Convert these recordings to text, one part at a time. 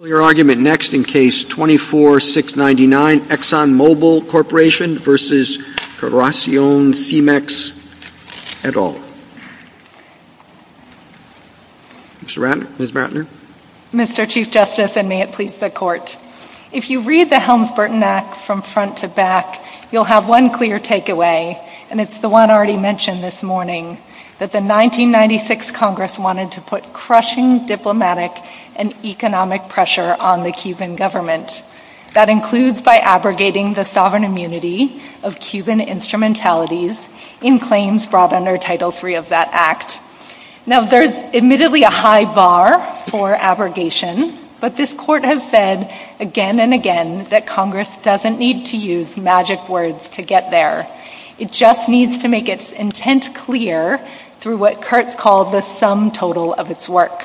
Mr. Ratner, Ms. Ratner. Mr. Chief Justice, and may it please the Court, if you read the Helms-Burton Act from front to back, you'll have one clear takeaway, and it's the one I already mentioned this morning, that the 1996 Congress wanted to put crushing diplomatic and political pressure on the U.S. government and economic pressure on the Cuban government. That includes by abrogating the sovereign immunity of Cuban instrumentalities in claims brought under Title III of that Act. Now, there's admittedly a high bar for abrogation, but this Court has said again and again that Congress doesn't need to use magic words to get there. It just needs to make its intent clear through what Kurtz called the sum total of its work,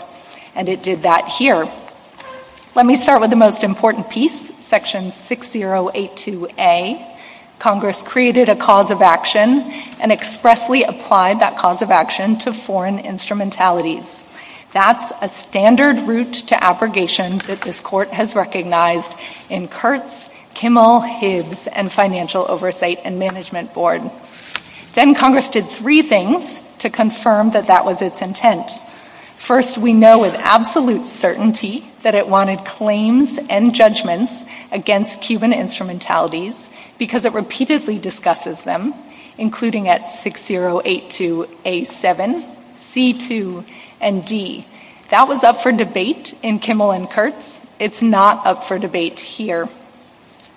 and it did that here. Let me start with the most important piece, Section 6082A. Congress created a cause of action and expressly applied that cause of action to foreign instrumentalities. That's a standard route to abrogation that this Court has recognized in Kurtz, Kimmel, Hibbs, and Financial Oversight and Management Board. Then Congress did three things to confirm that that was its intent. First, we know with absolute certainty that it wanted claims and judgments against Cuban instrumentalities because it repeatedly discusses them, including at 6082A7, C2, and D. That was up for debate in Kimmel and Kurtz. It's not up for debate here.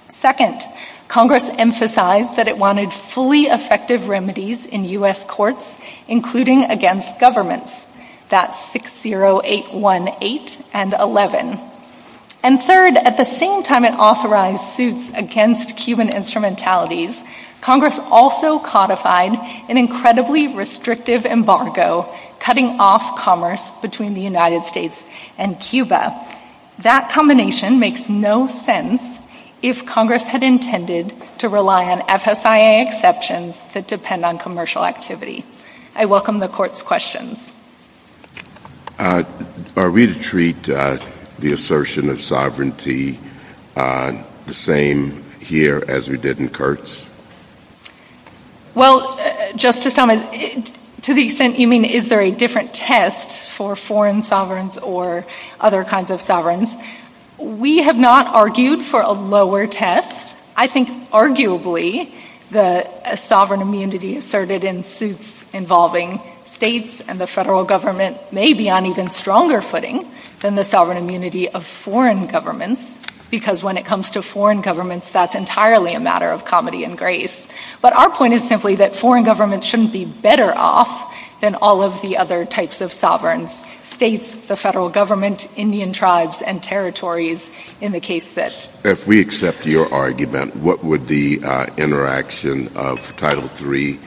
Second, Congress emphasized that it wanted fully effective remedies in U.S. courts, including against governments. That's 60818 and 11. And third, at the same time it authorized suits against Cuban instrumentalities, Congress also codified an incredibly restrictive embargo cutting off commerce between the United States and Cuba. That combination makes no sense if Congress had intended to rely on FSIA exceptions that depend on commercial activity. I welcome the Court's questions. Are we to treat the assertion of sovereignty the same here as we did in Kurtz? Well, Justice Summers, to the extent you mean is there a different test for foreign sovereigns or other kinds of sovereigns, we have not argued for a lower test. I think arguably the sovereign immunity asserted in suits involving states and the federal government may be on even stronger footing than the sovereign immunity of foreign governments, because when it comes to foreign governments that's entirely a matter of comedy and grace. But our point is simply that foreign governments shouldn't be better off than all of the other types of sovereigns, states, the federal government, Indian tribes, and territories in the case that... In your argument, what would the interaction of Title III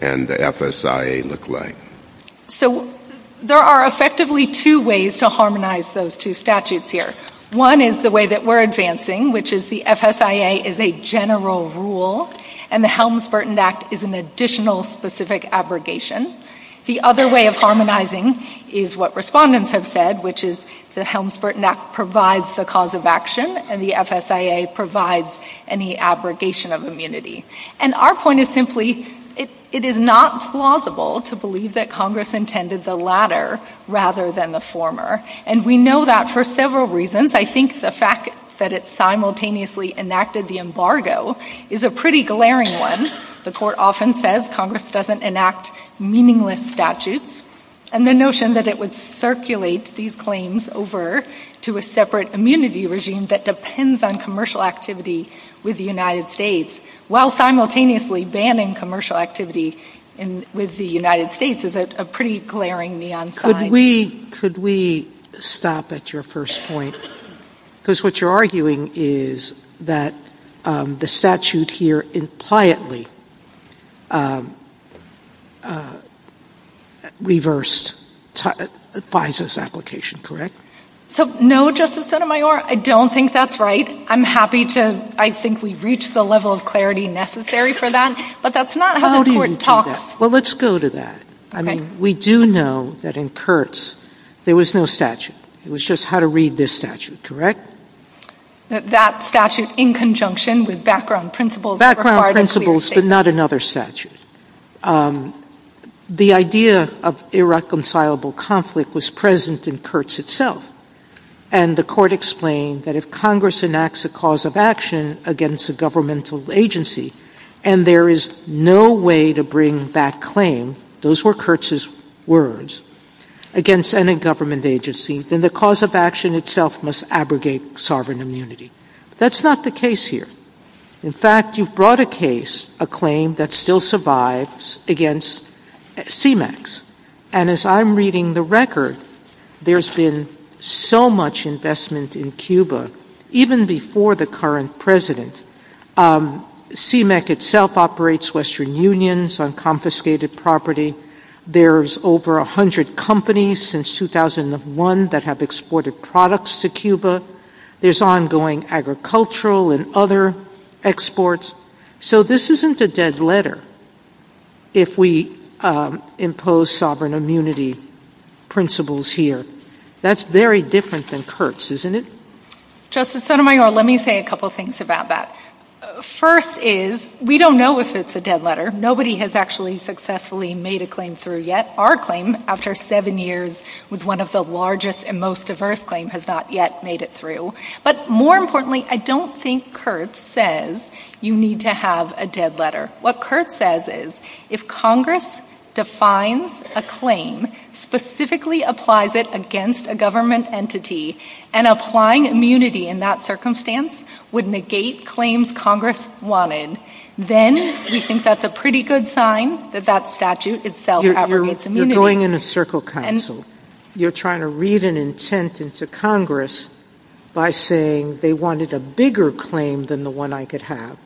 and the FSIA look like? So there are effectively two ways to harmonize those two statutes here. One is the way that we're advancing, which is the FSIA is a general rule, and the Helms-Burton Act is an additional specific abrogation. The other way of harmonizing is what respondents have said, which is the Helms-Burton Act provides the cause of action and the FSIA provides any abrogation of immunity. And our point is simply it is not plausible to believe that Congress intended the latter rather than the former, and we know that for several reasons. I think the fact that it simultaneously enacted the embargo is a pretty glaring one. The court often says Congress doesn't enact meaningless statutes, and the notion that it would circulate these claims over to a separate immunity regime that depends on commercial activity with the United States while simultaneously banning commercial activity with the United States is a pretty glaring neon sign. Could we stop at your first point? Because what you're arguing is that the statute here would impliantly reverse FISA's application, correct? No, Justice Sotomayor, I don't think that's right. I think we've reached the level of clarity necessary for that, but that's not how the court talks. Well, let's go to that. We do know that in Kurtz there was no statute. It was just how to read this statute, correct? That statute in conjunction with background principles. Background principles, but not another statute. The idea of irreconcilable conflict was present in Kurtz itself, and the court explained that if Congress enacts a cause of action against a governmental agency, and there is no way to bring that claim, those were Kurtz's words, against any government agency, then the cause of action itself must abrogate sovereign immunity. That's not the case here. In fact, you've brought a case, a claim that still survives against CMEX, and as I'm reading the record, there's been so much investment in Cuba, even before the current president. CMEX itself operates Western Unions on confiscated property. There's over 100 companies since 2001 that have exported products to Cuba. There's ongoing agricultural and other exports. So this isn't a dead letter if we impose sovereign immunity principles here. That's very different than Kurtz, isn't it? Justice Sotomayor, let me say a couple of things about that. First is, we don't know if it's a dead letter. Nobody has actually successfully made a claim through yet. Our claim, after seven years with one of the largest and most diverse claims, has not yet made it through. But more importantly, I don't think Kurtz says you need to have a dead letter. What Kurtz says is, if Congress defines a claim, specifically applies it against a government entity, and applying immunity in that circumstance would negate claims Congress wanted, then we think that's a pretty good sign that that statute itself outweighs immunity. You're going in a circle council. You're trying to read an intent into Congress by saying they wanted a bigger claim than the one I could have.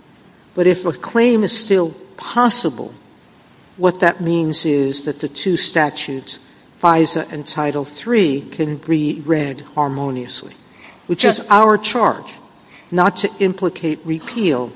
But if a claim is still possible, what that means is that the two statutes, FISA and Title III, can be read harmoniously. Which is our charge, not to implicate repeal.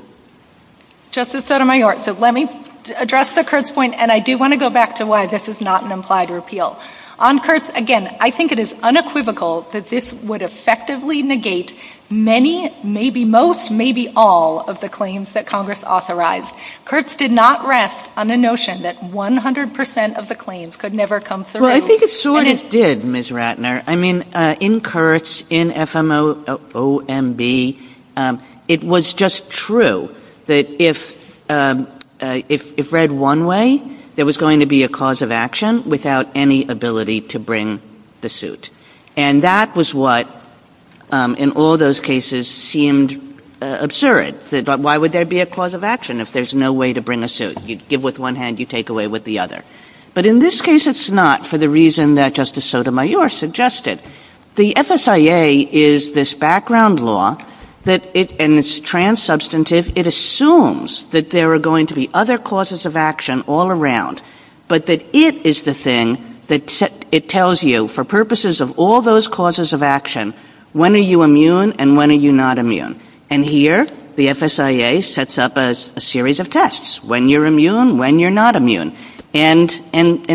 Justice Sotomayor, let me address the Kurtz point, and I do want to go back to why this is not an implied repeal. On Kurtz, again, I think it is unequivocal that this would effectively negate many, maybe most, maybe all of the claims that Congress authorized. Kurtz did not rest on the notion that 100 percent of the claims could never come through. Well, I think it sort of did, Ms. Ratner. I mean, in Kurtz, in FMOMB, it was just true that if read one way, there was going to be a cause of action without any ability to bring the suit. And that was what, in all those cases, seemed absurd. Why would there be a cause of action if there's no way to bring a suit? You give with one hand, you take away with the other. But in this case, it's not for the reason that Justice Sotomayor suggested. The FSIA is this background law, and it's trans-substantive. It assumes that there are going to be other causes of action all around, but that it is the thing that it tells you, for purposes of all those causes of action, when are you immune and when are you not immune? And here, the FSIA sets up a series of tests. When you're immune, when you're not immune. And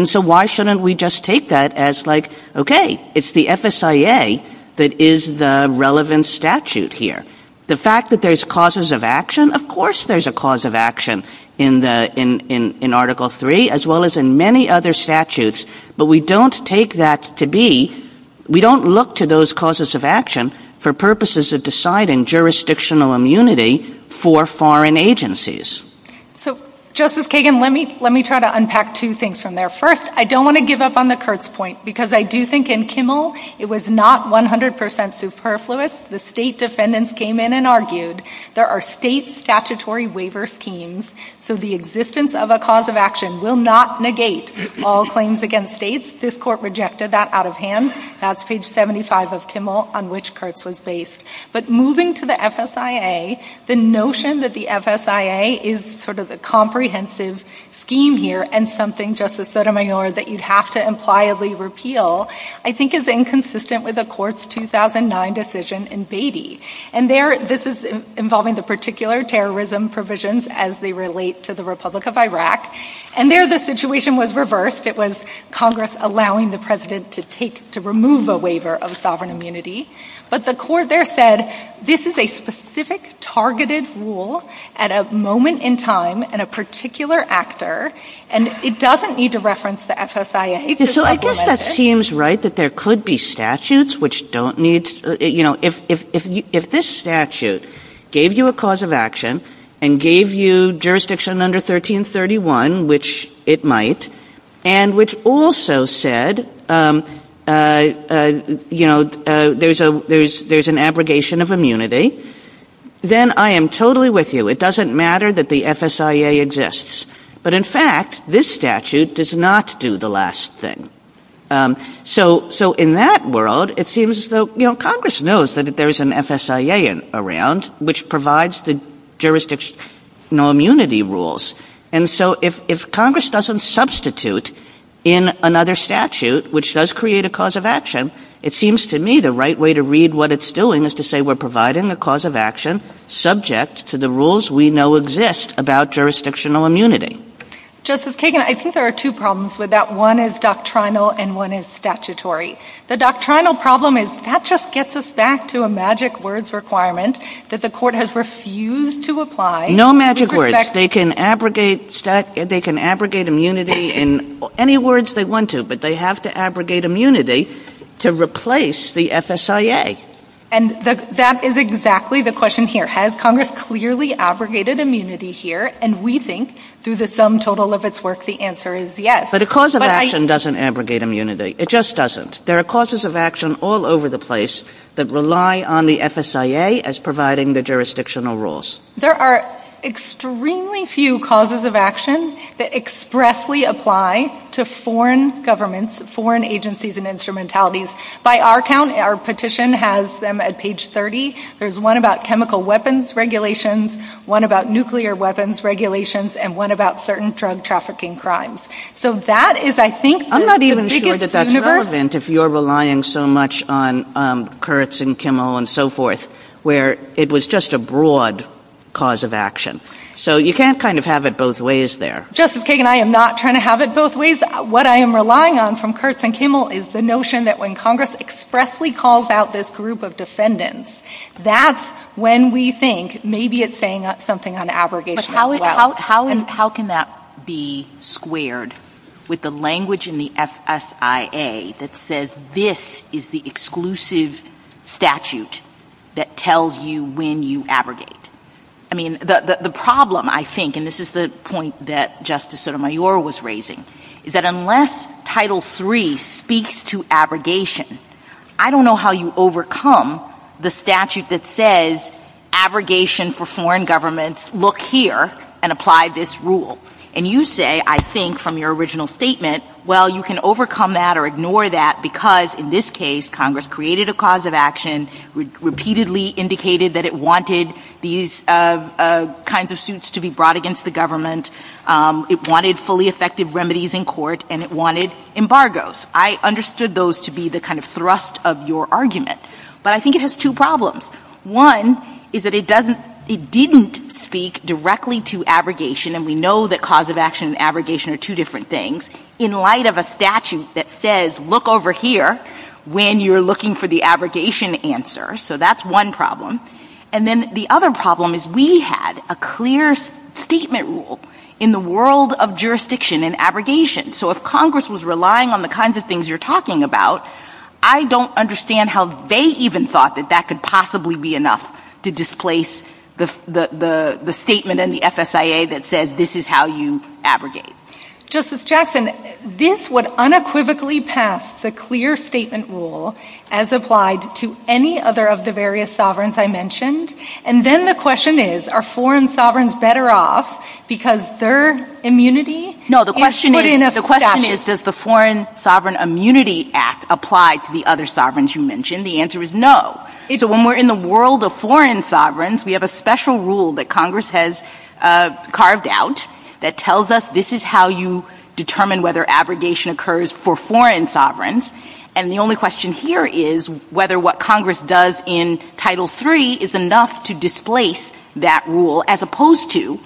so why shouldn't we just take that as, like, okay, it's the FSIA that is the relevant statute here. The fact that there's causes of action, of course there's a cause of action in Article 3, as well as in many other statutes, but we don't take that to be, we don't look to those causes of action for purposes of deciding jurisdictional immunity for foreign agencies. So, Justice Kagan, let me try to unpack two things from there. First, I don't want to give up on the Kurtz point, because I do think in Kimmel it was not 100% superfluous. The state defendants came in and argued there are state statutory waiver schemes, so the existence of a cause of action will not negate all claims against states. This court rejected that out of hand. That's page 75 of Kimmel, on which Kurtz was based. But moving to the FSIA, the notion that the FSIA is sort of a comprehensive scheme here and something, Justice Sotomayor, that you'd have to impliedly repeal, I think is inconsistent with the court's 2009 decision in Beatty. And there, this is involving the particular terrorism provisions as they relate to the Republic of Iraq. And there the situation was reversed. It was Congress allowing the president to remove a waiver of sovereign immunity. But the court there said this is a specific, targeted rule at a moment in time and a particular actor, and it doesn't need to reference the FSIA. So I guess that seems right, that there could be statutes which don't need... You know, if this statute gave you a cause of action and gave you jurisdiction under 1331, which it might, and which also said, you know, there's an abrogation of immunity, then I am totally with you. It doesn't matter that the FSIA exists. But in fact, this statute does not do the last thing. So in that world, it seems as though, you know, Congress knows that there's an FSIA around, which provides the jurisdictional immunity rules. And so if Congress doesn't substitute in another statute, which does create a cause of action, it seems to me the right way to read what it's doing is to say we're providing a cause of action subject to the rules we know exist about jurisdictional immunity. Justice Kagan, I think there are two problems with that. One is doctrinal and one is statutory. The doctrinal problem is that just gets us back to a magic words requirement that the court has refused to apply. No magic words. They can abrogate immunity in any words they want to, but they have to abrogate immunity to replace the FSIA. And that is exactly the question here. Has Congress clearly abrogated immunity here? And we think through the sum total of its work, the answer is yes. But a cause of action doesn't abrogate immunity. It just doesn't. There are causes of action all over the place that rely on the FSIA as providing the jurisdictional rules. There are extremely few causes of action that expressly apply to foreign governments, foreign agencies and instrumentalities. By our count, our petition has them at page 30. There's one about chemical weapons regulations, one about nuclear weapons regulations, and one about certain drug trafficking crimes. So that is, I think, the biggest universe. I'm not even sure that that's relevant if you're relying so much on Kurtz and Kimmel and so forth, where it was just a broad cause of action. So you can't kind of have it both ways there. Justice Kagan, I am not trying to have it both ways. What I am relying on from Kurtz and Kimmel is the notion that when Congress expressly calls out this group of defendants, that's when we think maybe it's saying something on abrogation as well. How can that be squared with the language in the FSIA that says this is the exclusive statute that tells you when you abrogate? I mean, the problem, I think, and this is the point that Justice Sotomayor was raising, is that unless Title III speaks to abrogation, I don't know how you overcome the statute that says abrogation for foreign governments, look here and apply this rule. And you say, I think, from your original statement, well, you can overcome that or ignore that, because in this case Congress created a cause of action, repeatedly indicated that it wanted these kinds of suits to be brought against the government, it wanted fully effective remedies in court, and it wanted embargoes. I understood those to be the kind of thrust of your argument, but I think it has two problems. One is that it didn't speak directly to abrogation, and we know that cause of action and abrogation are two different things, in light of a statute that says look over here when you're looking for the abrogation answer. So that's one problem. And then the other problem is we had a clear statement rule in the world of jurisdiction and abrogation. So if Congress was relying on the kinds of things you're talking about, I don't understand how they even thought that that could possibly be enough to displace the statement in the FSIA that said this is how you abrogate. Justice Jackson, this would unequivocally pass the clear statement rule as applied to any other of the various sovereigns I mentioned, and then the question is, are foreign sovereigns better off because their immunity is put in a statute? The question is, does the Foreign Sovereign Immunity Act apply to the other sovereigns you mentioned? The answer is no. When we're in the world of foreign sovereigns, we have a special rule that Congress has carved out that tells us this is how you determine whether abrogation occurs for foreign sovereigns, and the only question here is whether what Congress does in Title III is enough to displace that rule, as opposed to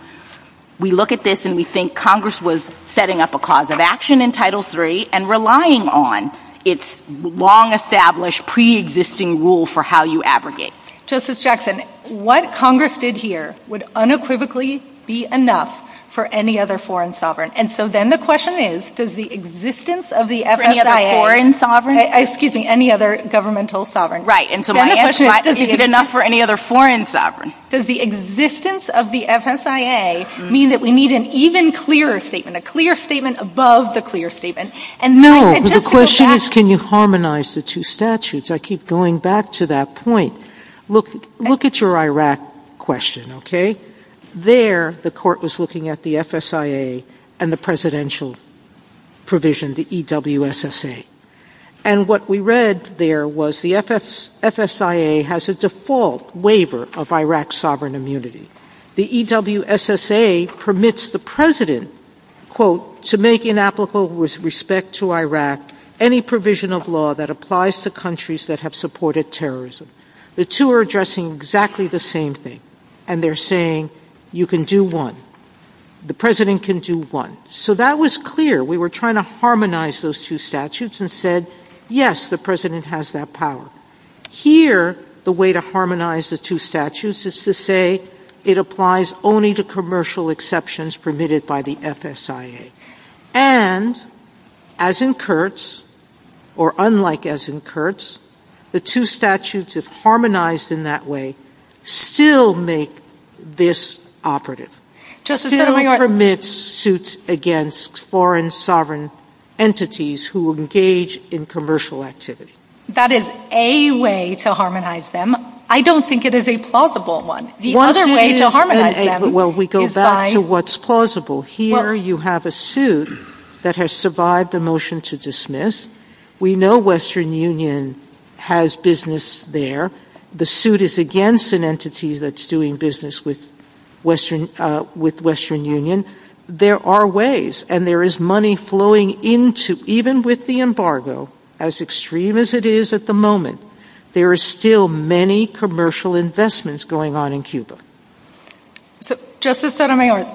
we look at this and we think Congress was setting up a cause of action in Title III and relying on its long-established preexisting rule for how you abrogate. Justice Jackson, what Congress did here would unequivocally be enough for any other foreign sovereign, and so then the question is, does the existence of the FSIA— For any other foreign sovereign? Excuse me, any other governmental sovereign. Right, and so my answer is, is it enough for any other foreign sovereign? Does the existence of the FSIA mean that we need an even clearer statement, a clear statement above the clear statement? No, the question is, can you harmonize the two statutes? I keep going back to that point. Look at your Iraq question, okay? There, the court was looking at the FSIA and the presidential provision, the EWSSA, and what we read there was the FSIA has a default waiver of Iraq's sovereign immunity. The EWSSA permits the president, quote, to make inapplicable with respect to Iraq any provision of law that applies to countries that have supported terrorism. The two are addressing exactly the same thing, and they're saying you can do one. The president can do one. So that was clear. We were trying to harmonize those two statutes and said, yes, the president has that power. Here, the way to harmonize the two statutes is to say it applies only to commercial exceptions permitted by the FSIA. And, as in Kurtz, or unlike as in Kurtz, the two statutes, if harmonized in that way, still make this operative. Still permit suits against foreign sovereign entities who engage in commercial activity. That is a way to harmonize them. I don't think it is a plausible one. The other way to harmonize them is by... Well, we go back to what's plausible. Here, you have a suit that has survived the motion to dismiss. We know Western Union has business there. The suit is against an entity that's doing business with Western Union. There are ways, and there is money flowing into, even with the embargo, as extreme as it is at the moment, there are still many commercial investments going on in Cuba. Justice Sotomayor,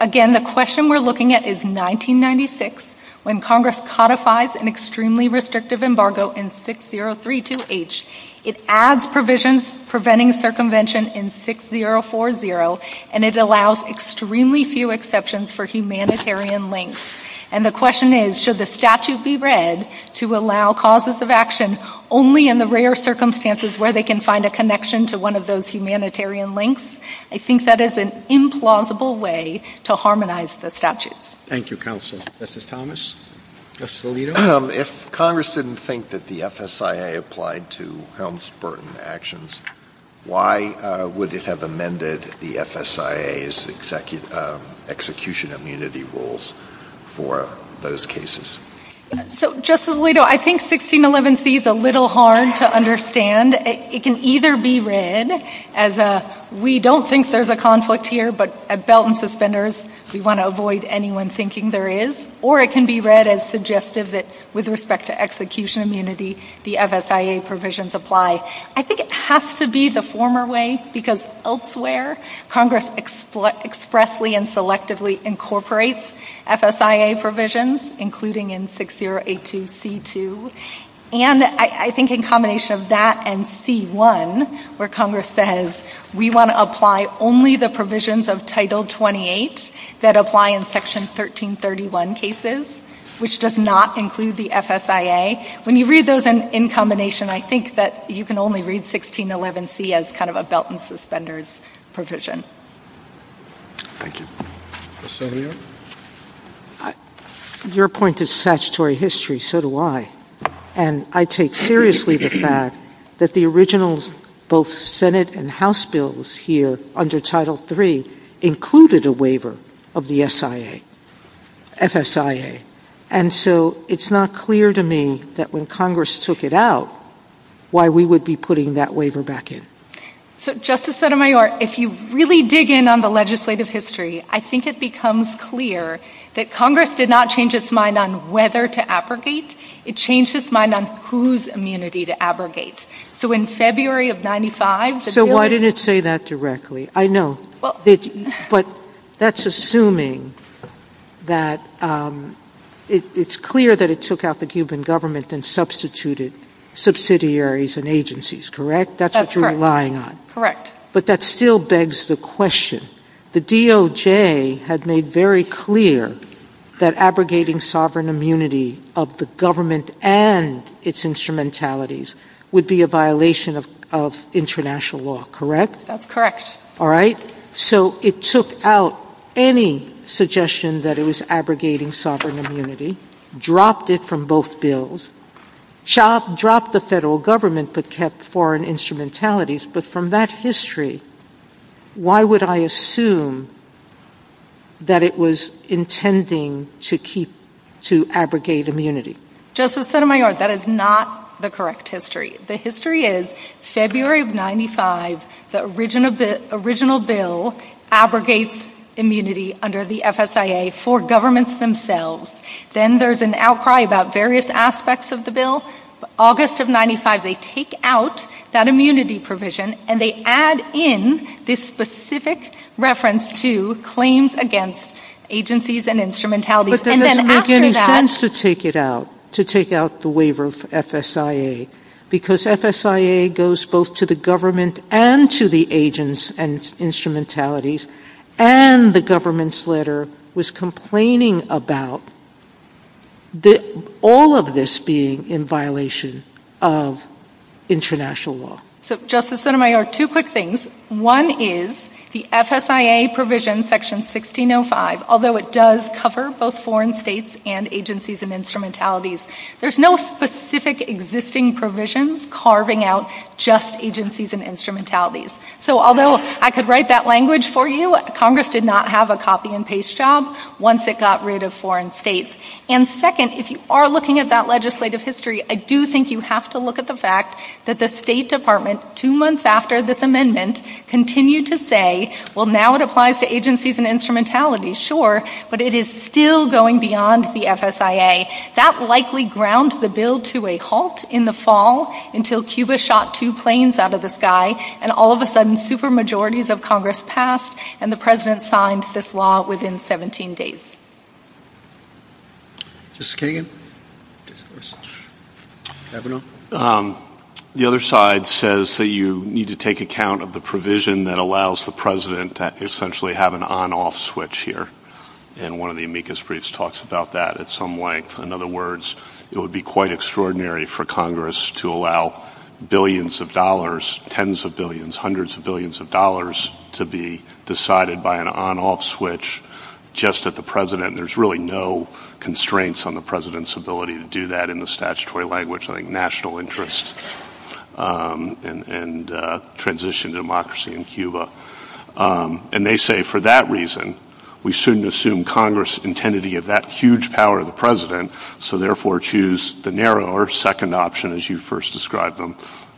again, the question we're looking at is 1996, when Congress codifies an extremely restrictive embargo in 6032H, it adds provisions preventing circumvention in 6040, and it allows extremely few exceptions for humanitarian links. And the question is, should the statute be read to allow causes of action only in the rare circumstances where they can find a connection to one of those humanitarian links? I think that is an implausible way to harmonize the statute. Thank you, counsel. Justice Thomas? Justice Alito? If Congress didn't think that the FSIA applied to Helms-Burton actions, why would it have amended the FSIA's execution immunity rules for those cases? So, Justice Alito, I think 1611C is a little hard to understand. It can either be read as a, we don't think there's a conflict here, but a belt and suspenders, we want to avoid anyone thinking there is, or it can be read as suggestive that with respect to execution immunity, the FSIA provisions apply. I think it has to be the former way, because elsewhere, Congress expressly and selectively incorporates FSIA provisions, including in 6082C2, and I think in combination of that and C1, where Congress says we want to apply only the provisions of Title 28 that apply in Section 1331 cases, which does not include the FSIA. When you read those in combination, I think that you can only read 1611C as kind of a belt and suspenders provision. Thank you. Justice Alito? Your point is statutory history, so do I. And I take seriously the fact that the originals, both Senate and House bills here under Title 3, included a waiver of the SIA, FSIA. And so it's not clear to me that when Congress took it out, why we would be putting that waiver back in. So, Justice Sotomayor, if you really dig in on the legislative history, I think it becomes clear that Congress did not change its mind on whether to abrogate. It changed its mind on whose immunity to abrogate. So in February of 95, the bill is... So why did it say that directly? I know. But that's assuming that it's clear that it took out the Cuban government and substituted subsidiaries and agencies, correct? That's what you're relying on. Correct. But that still begs the question. The DOJ had made very clear that abrogating sovereign immunity of the government and its instrumentalities would be a violation of international law, correct? Correct. All right. So it took out any suggestion that it was abrogating sovereign immunity, dropped it from both bills, dropped the federal government that kept foreign instrumentalities, but from that history, why would I assume that it was intending to abrogate immunity? Justice Sotomayor, that is not the correct history. The history is February of 95, the original bill abrogates immunity under the FSIA for governments themselves. Then there's an outcry about various aspects of the bill. August of 95, they take out that immunity provision, and they add in this specific reference to claims against agencies and instrumentalities. But they didn't intend to take it out, to take out the waiver of FSIA, because FSIA goes both to the government and to the agents and instrumentalities, and the government's letter was complaining about all of this being in violation of international law. So, Justice Sotomayor, two quick things. One is the FSIA provision section 1605, although it does cover both foreign states and agencies and instrumentalities, there's no specific existing provisions carving out just agencies and instrumentalities. So, although I could write that language for you, Congress did not have a copy-and-paste job once it got rid of foreign states. And second, if you are looking at that legislative history, I do think you have to look at the fact that the State Department, two months after this amendment, continued to say, well, now it applies to agencies and instrumentalities, sure, but it is still going beyond the FSIA. That likely ground the bill to a halt in the fall, until Cuba shot two planes out of the sky, and all of a sudden super-majorities of Congress passed, and the President signed this law within 17 days. The other side says that you need to take account of the provision that allows the President to essentially have an on-off switch here. And one of the amicus briefs talks about that at some length. In other words, it would be quite extraordinary for Congress to allow billions of dollars, tens of billions, hundreds of billions of dollars to be decided by an on-off switch just at the President. There's really no constraints on the President's ability to do that in the statutory language, like national interest and transition to democracy in Cuba. And they say, for that reason, we shouldn't assume Congress intended to give that huge power to the President, so therefore choose the narrower second option, as you first described them,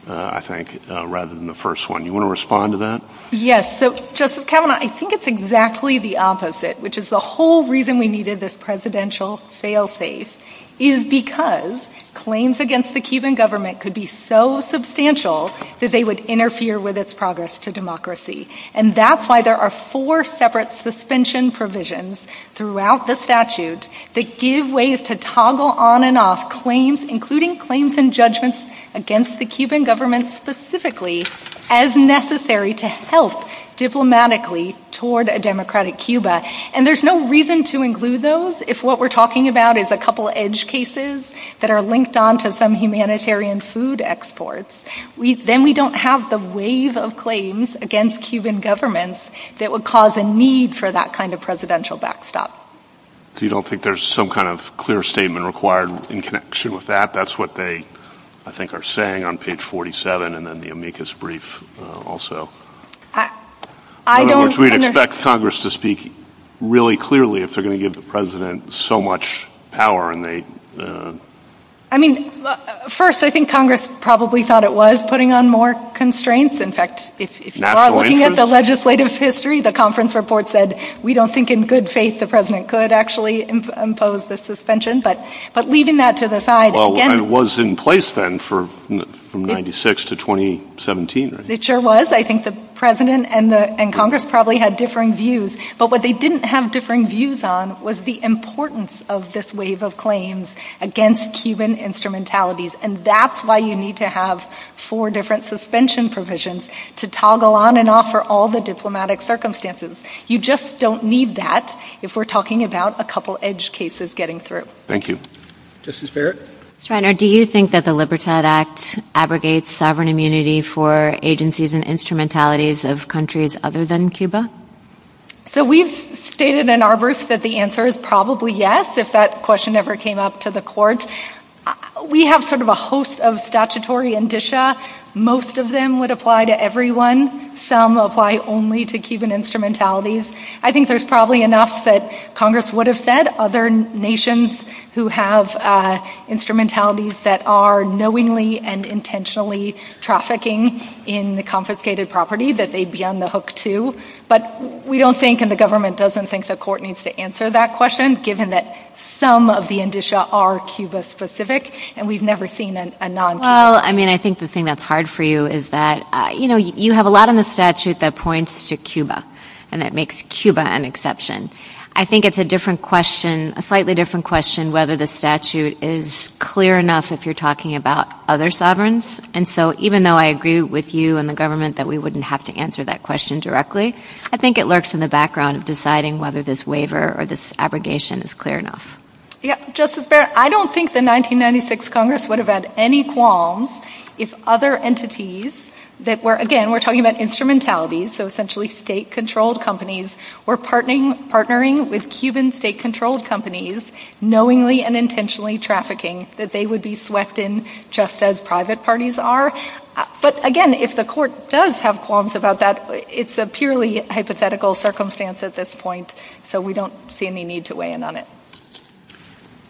I think, rather than the first one. You want to respond to that? Yes. So, Justice Kavanaugh, I think it's exactly the opposite, which is the whole reason we needed this presidential fail-safe is because claims against the Cuban government could be so substantial that they would interfere with its progress to democracy. And that's why there are four separate suspension provisions throughout the statute that give ways to toggle on and off claims, including claims and judgments against the Cuban government specifically, as necessary to help diplomatically toward a democratic Cuba. And there's no reason to include those if what we're talking about is a couple edge cases that are linked on to some humanitarian food exports. Then we don't have the wave of claims against Cuban governments that would cause a need for that kind of presidential backstop. So you don't think there's some kind of clear statement required in connection with that? That's what they, I think, are saying on page 47 and then the amicus brief also. In other words, we'd expect Congress to speak really clearly if they're going to give the President so much power. I mean, first, I think Congress probably thought it was putting on more constraints. In fact, if you are looking at the legislative history, the conference report said that we don't think in good faith the President could actually impose the suspension. But leaving that to the side. Well, it was in place then from 96 to 2017, right? It sure was. I think the President and Congress probably had differing views. But what they didn't have differing views on was the importance of this wave of claims against Cuban instrumentalities. And that's why you need to have four different suspension provisions to toggle on and off for all the diplomatic circumstances. You just don't need that if we're talking about a couple edge cases getting through. Thank you. Justice Barrett? Senator, do you think that the Libertad Act abrogates sovereign immunity for agencies and instrumentalities of countries other than Cuba? So we've stated in our briefs that the answer is probably yes, if that question ever came up to the court. We have sort of a host of statutory indicia. Most of them would apply to everyone. Some apply only to Cuban instrumentalities. I think there's probably enough that Congress would have said other nations who have instrumentalities that are knowingly and intentionally trafficking in the confiscated property that they'd be on the hook to. But we don't think and the government doesn't think the court needs to answer that question, given that some of the indicia are Cuba-specific and we've never seen a non-Cuba. Well, I mean, I think the thing that's hard for you is that you have a lot in the statute that points to Cuba and that makes Cuba an exception. I think it's a different question, a slightly different question, whether the statute is clear enough if you're talking about other sovereigns. And so even though I agree with you and the government that we wouldn't have to answer that question directly, I think it lurks in the background of deciding whether this waiver or this abrogation is clear enough. Yeah, Justice Barrett, I don't think the 1996 Congress would have had any qualms if other entities that were, again, we're talking about instrumentalities, so essentially state-controlled companies, were partnering with Cuban state-controlled companies knowingly and intentionally trafficking that they would be swept in just as private parties are. But again, if the court does have qualms about that, it's a purely hypothetical circumstance at this point, so we don't see any need to weigh in on it.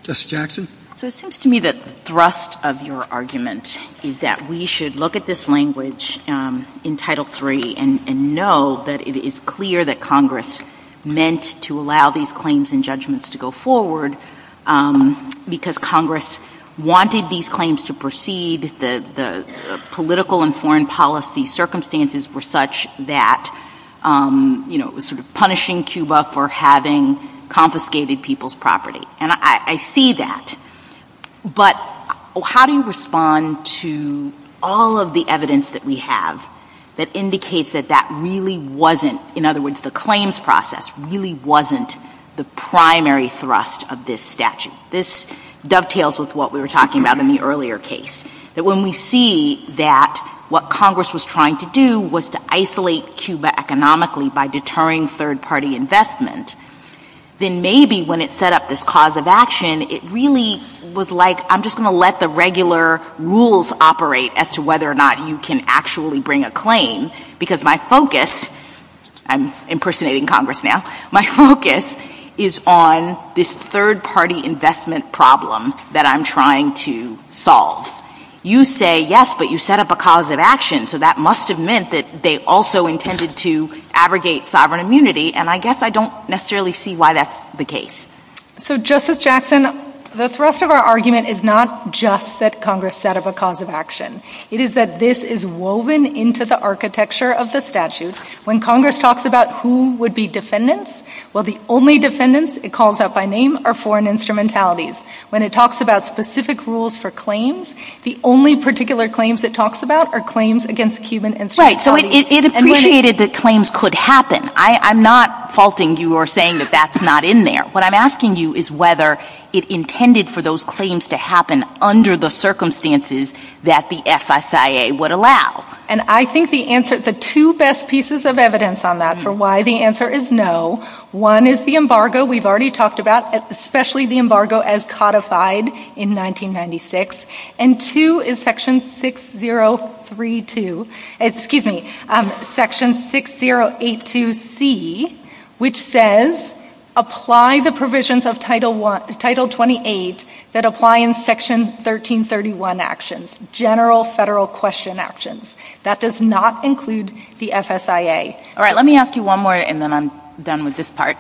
Justice Jackson? So it seems to me that the thrust of your argument is that we should look at this language in Title III and know that it is clear that Congress meant to allow these claims and judgments to go forward because Congress wanted these claims to proceed. The political and foreign policy circumstances were such that, you know, Congress was sort of punishing Cuba for having confiscated people's property, and I see that. But how do you respond to all of the evidence that we have that indicates that that really wasn't, in other words, the claims process really wasn't the primary thrust of this statute? This dovetails with what we were talking about in the earlier case, that when we see that what Congress was trying to do was to isolate Cuba economically by deterring third-party investment, then maybe when it set up this cause of action, it really was like I'm just going to let the regular rules operate as to whether or not you can actually bring a claim because my focus, I'm impersonating Congress now, my focus is on this third-party investment problem that I'm trying to solve. You say yes, but you set up a cause of action, so that must have meant that they also intended to abrogate sovereign immunity, and I guess I don't necessarily see why that's the case. So, Justice Jackson, the thrust of our argument is not just that Congress set up a cause of action. It is that this is woven into the architecture of the statute. When Congress talks about who would be defendants, well, the only defendants it calls out by name are foreign instrumentalities. When it talks about specific rules for claims, the only particular claims it talks about are claims against Cuban instrumentalities. Right, so it appreciated that claims could happen. I'm not faulting you or saying that that's not in there. What I'm asking you is whether it intended for those claims to happen under the circumstances that the FSIA would allow. And I think the answer, the two best pieces of evidence on that for why the answer is no, one is the embargo we've already talked about, especially the embargo as codified in 1996, and two is Section 6032, excuse me, Section 6082C, which says apply the provisions of Title 28 that apply in Section 1331 actions, general federal question actions. That does not include the FSIA. All right, let me ask you one more and then I'm done with this part.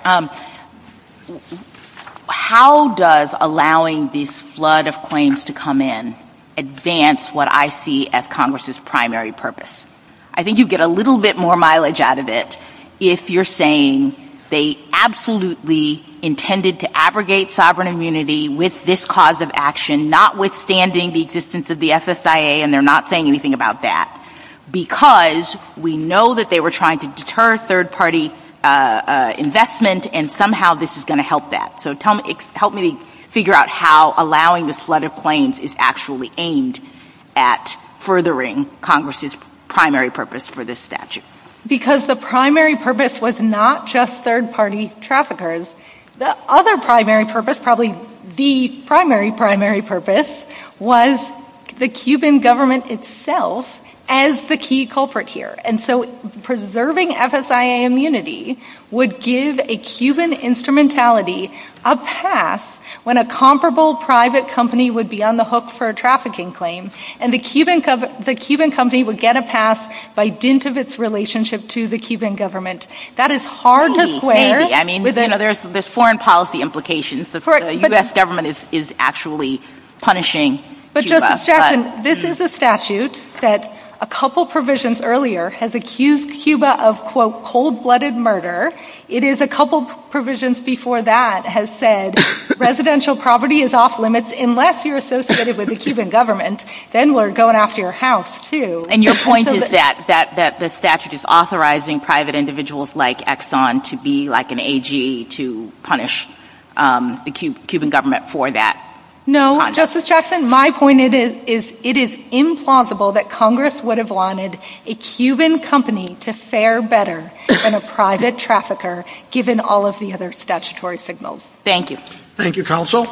How does allowing this flood of claims to come in advance what I see as Congress's primary purpose? I think you get a little bit more mileage out of it if you're saying they absolutely intended to abrogate sovereign immunity with this cause of action, notwithstanding the existence of the FSIA, and they're not saying anything about that, because we know that they were trying to deter third-party investment and somehow this is going to help that. So help me figure out how allowing this flood of claims is actually aimed at furthering Congress's primary purpose for this statute. Because the primary purpose was not just third-party traffickers. The other primary purpose, probably the primary, primary purpose was the Cuban government itself as the key culprit here. And so preserving FSIA immunity would give a Cuban instrumentality a pass when a comparable private company would be on the hook for a trafficking claim, and the Cuban company would get a pass by dint of its relationship to the Cuban government. That is hard to square. There's foreign policy implications. The U.S. government is actually punishing Cuba. But, Justice Jackson, this is a statute that a couple provisions earlier has accused Cuba of, quote, cold-blooded murder. It is a couple provisions before that has said residential property is off limits unless you're associated with the Cuban government, then we're going after your house, too. And your point is that the statute is authorizing private individuals like Exxon to be like an AGE to punish the Cuban government for that? No, Justice Jackson, my point is it is implausible that Congress would have wanted a Cuban company to fare better than a private trafficker given all of the other statutory signals. Thank you. Thank you, Counsel.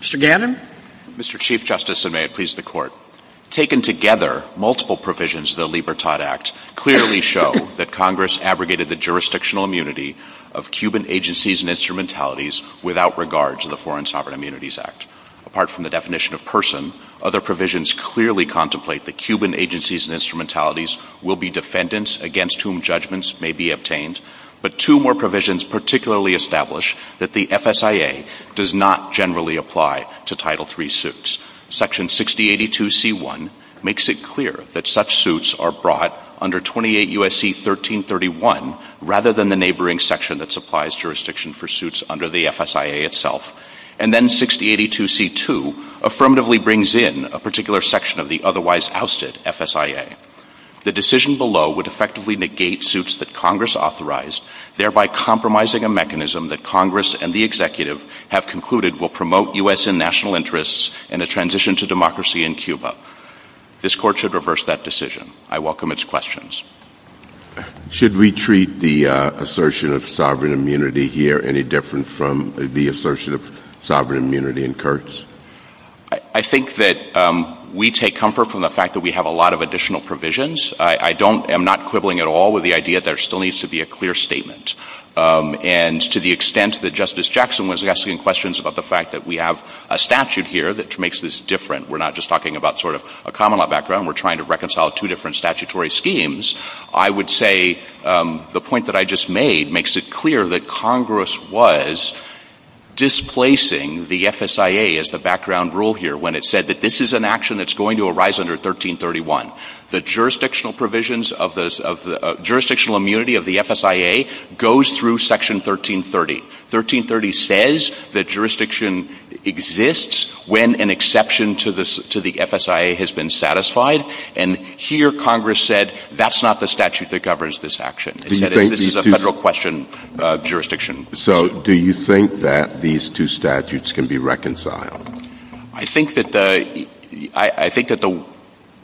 Mr. Gannon? Mr. Chief Justice, and may it please the Court, taken together, multiple provisions of the Libertad Act clearly show that Congress abrogated the jurisdictional immunity of Cuban agencies and instrumentalities without regard to the Foreign Sovereign Immunities Act. Apart from the definition of person, other provisions clearly contemplate that Cuban agencies and instrumentalities will be defendants against whom judgments may be obtained. But two more provisions particularly establish that the FSIA does not generally apply to Title III suits. Section 6082C1 makes it clear that such suits are brought under 28 U.S.C. 1331 rather than the neighboring section that supplies jurisdiction for suits under the FSIA itself. And then 6082C2 affirmatively brings in a particular section of the otherwise ousted FSIA. The decision below would effectively negate suits that Congress authorized, thereby compromising a mechanism that Congress and the Executive have concluded will promote U.S. and national interests and a transition to democracy in Cuba. This Court should reverse that decision. I welcome its questions. Should we treat the assertion of sovereign immunity here any different from the assertion of sovereign immunity in Kurtz? I think that we take comfort from the fact that we have a lot of additional provisions. I don't — I'm not quibbling at all with the idea that there still needs to be a clear statement. And to the extent that Justice Jackson was asking questions about the fact that we have a statute here that makes this different, we're not just talking about sort of a common law background. We're trying to reconcile two different statutory schemes. I would say the point that I just made makes it clear that Congress was displacing the FSIA as the background rule here when it said that this is an action that's going to arise under 1331. The jurisdictional provisions of the — jurisdictional immunity of the FSIA goes through Section 1330. 1330 says that jurisdiction exists when an exception to the FSIA has been satisfied. And here Congress said that's not the statute that governs this action. It said this is a federal question of jurisdiction. So do you think that these two statutes can be reconciled? I think that the — I think that the —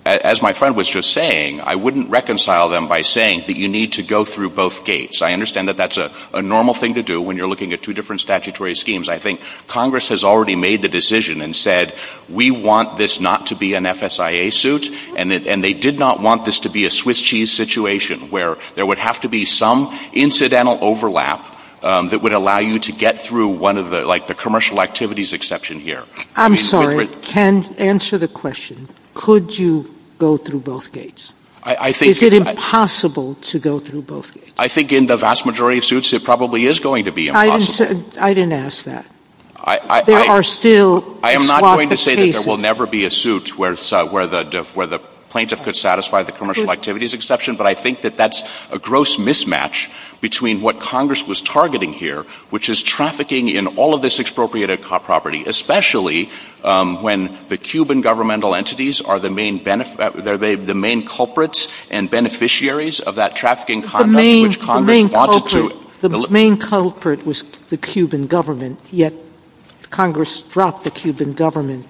as my friend was just saying, I wouldn't reconcile them by saying that you need to go through both gates. I understand that that's a normal thing to do when you're looking at two different statutory schemes. I think Congress has already made the decision and said we want this not to be an FSIA suit, and they did not want this to be a Swiss cheese situation where there would have to be some incidental overlap that would allow you to get through one of the — like the commercial activities exception here. I'm sorry. Ken, answer the question. Could you go through both gates? I think — Is it impossible to go through both gates? I think in the vast majority of suits it probably is going to be impossible. I didn't ask that. There are still a swath of cases — I am not going to say that there will never be a suit where the plaintiff could satisfy the commercial activities exception, but I think that that's a gross mismatch between what Congress was targeting here, which is trafficking in all of this expropriated property, especially when the Cuban governmental entities are the main — they're the main culprits and beneficiaries of that trafficking — The main culprit was the Cuban government, yet Congress dropped the Cuban government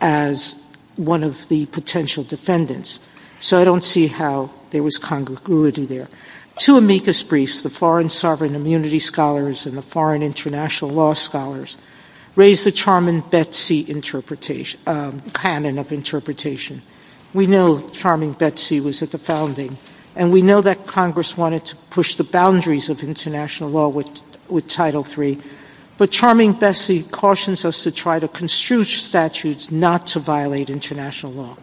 as one of the potential defendants, so I don't see how there was congruity there. Two amicus briefs, the Foreign Sovereign Immunity Scholars and the Foreign International Law Scholars, raise the Charming Betsy canon of interpretation. We know Charming Betsy was at the founding, and we know that Congress wanted to push the boundaries of international law with Title III, but Charming Betsy cautions us to try to construe statutes not to violate international law.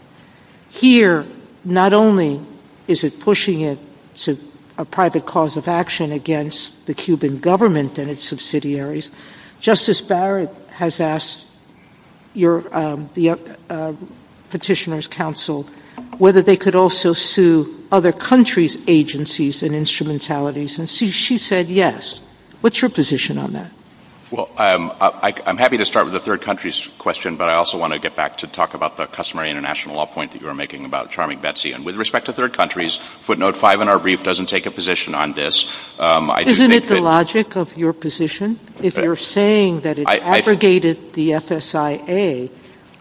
Here, not only is it pushing it to a private cause of action against the Cuban government and its subsidiaries, Justice Barrett has asked the Petitioners' Council whether they could also sue other countries' agencies and instrumentalities, and she said yes. What's your position on that? Well, I'm happy to start with the third country's question, but I also want to get back to talk about the customary international law point that you were making about Charming Betsy, and with respect to third countries, footnote five in our brief doesn't take a position on this. Isn't it the logic of your position? If you're saying that it abrogated the FSIA,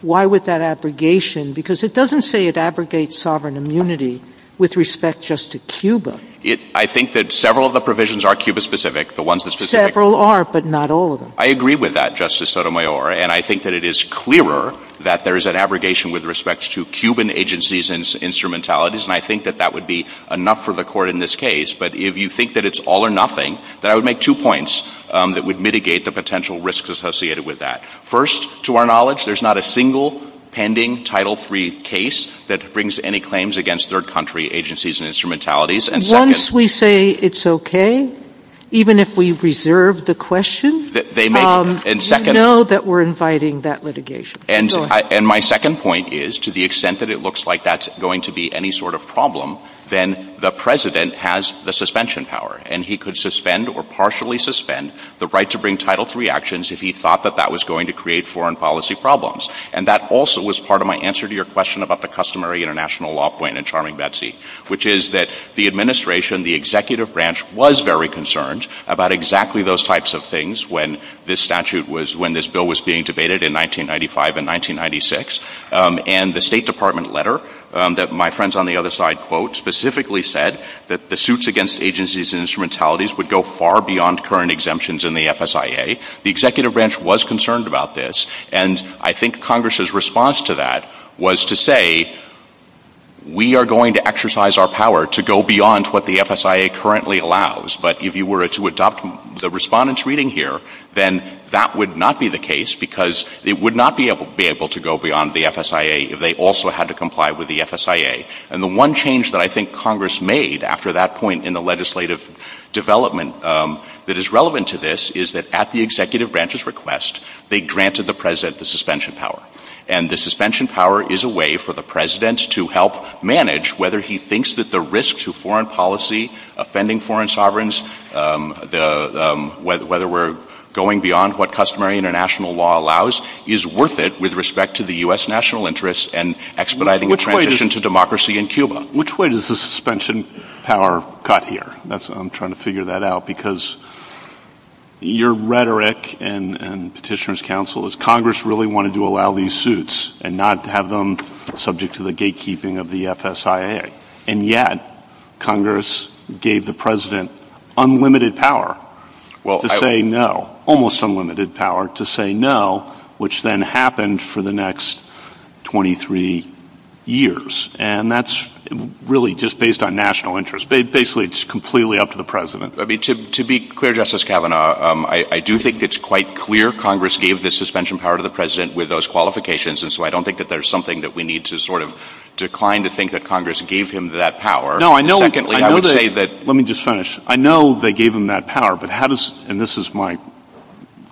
why would that abrogation? Because it doesn't say it abrogates sovereign immunity with respect just to Cuba. I think that several of the provisions are Cuba-specific. Several are, but not all of them. I agree with that, Justice Sotomayor, and I think that it is clearer that there is an abrogation with respect to Cuban agencies and instrumentalities, and I think that that would be enough for the Court in this case. But if you think that it's all or nothing, then I would make two points that would mitigate the potential risks associated with that. First, to our knowledge, there's not a single pending title-free case that brings any claims against third country agencies and instrumentalities. Once we say it's okay, even if we reserve the question, you know that we're inviting that litigation. And my second point is, to the extent that it looks like that's going to be any sort of problem, then the president has the suspension power, and he could suspend or partially suspend the right to bring title-free actions if he thought that that was going to create foreign policy problems. And that also was part of my answer to your question about the customary international law point in Charming Betsy, which is that the administration, the executive branch, was very concerned about exactly those types of things when this statute was, when this bill was being debated in 1995 and 1996. And the State Department letter that my friends on the other side quote specifically said that the suits against agencies and instrumentalities would go far beyond current exemptions in the FSIA. The executive branch was concerned about this, and I think Congress's response to that was to say, we are going to exercise our power to go beyond what the FSIA currently allows, but if you were to adopt the respondent's reading here, then that would not be the case because it would not be able to go beyond the FSIA if they also had to comply with the FSIA. And the one change that I think Congress made after that point in the legislative development that is relevant to this is that at the executive branch's request, they granted the president the suspension power. And the suspension power is a way for the president to help manage whether he thinks that the risk to foreign policy, offending foreign sovereigns, whether we're going beyond what customary international law allows, is worth it with respect to the U.S. national interest and expediting the transition to democracy in Cuba. Which way does the suspension power cut here? I'm trying to figure that out because your rhetoric and petitioners' counsel is Congress really wanted to allow these suits and not have them subject to the gatekeeping of the FSIA. And yet Congress gave the president unlimited power to say no, almost unlimited power to say no, which then happened for the next 23 years. And that's really just based on national interest. Basically, it's completely up to the president. To be clear, Justice Kavanaugh, I do think it's quite clear Congress gave the suspension power to the president with those qualifications, and so I don't think that there's something that we need to sort of decline to think that Congress gave him that power. Let me just finish. I know they gave him that power, and this is my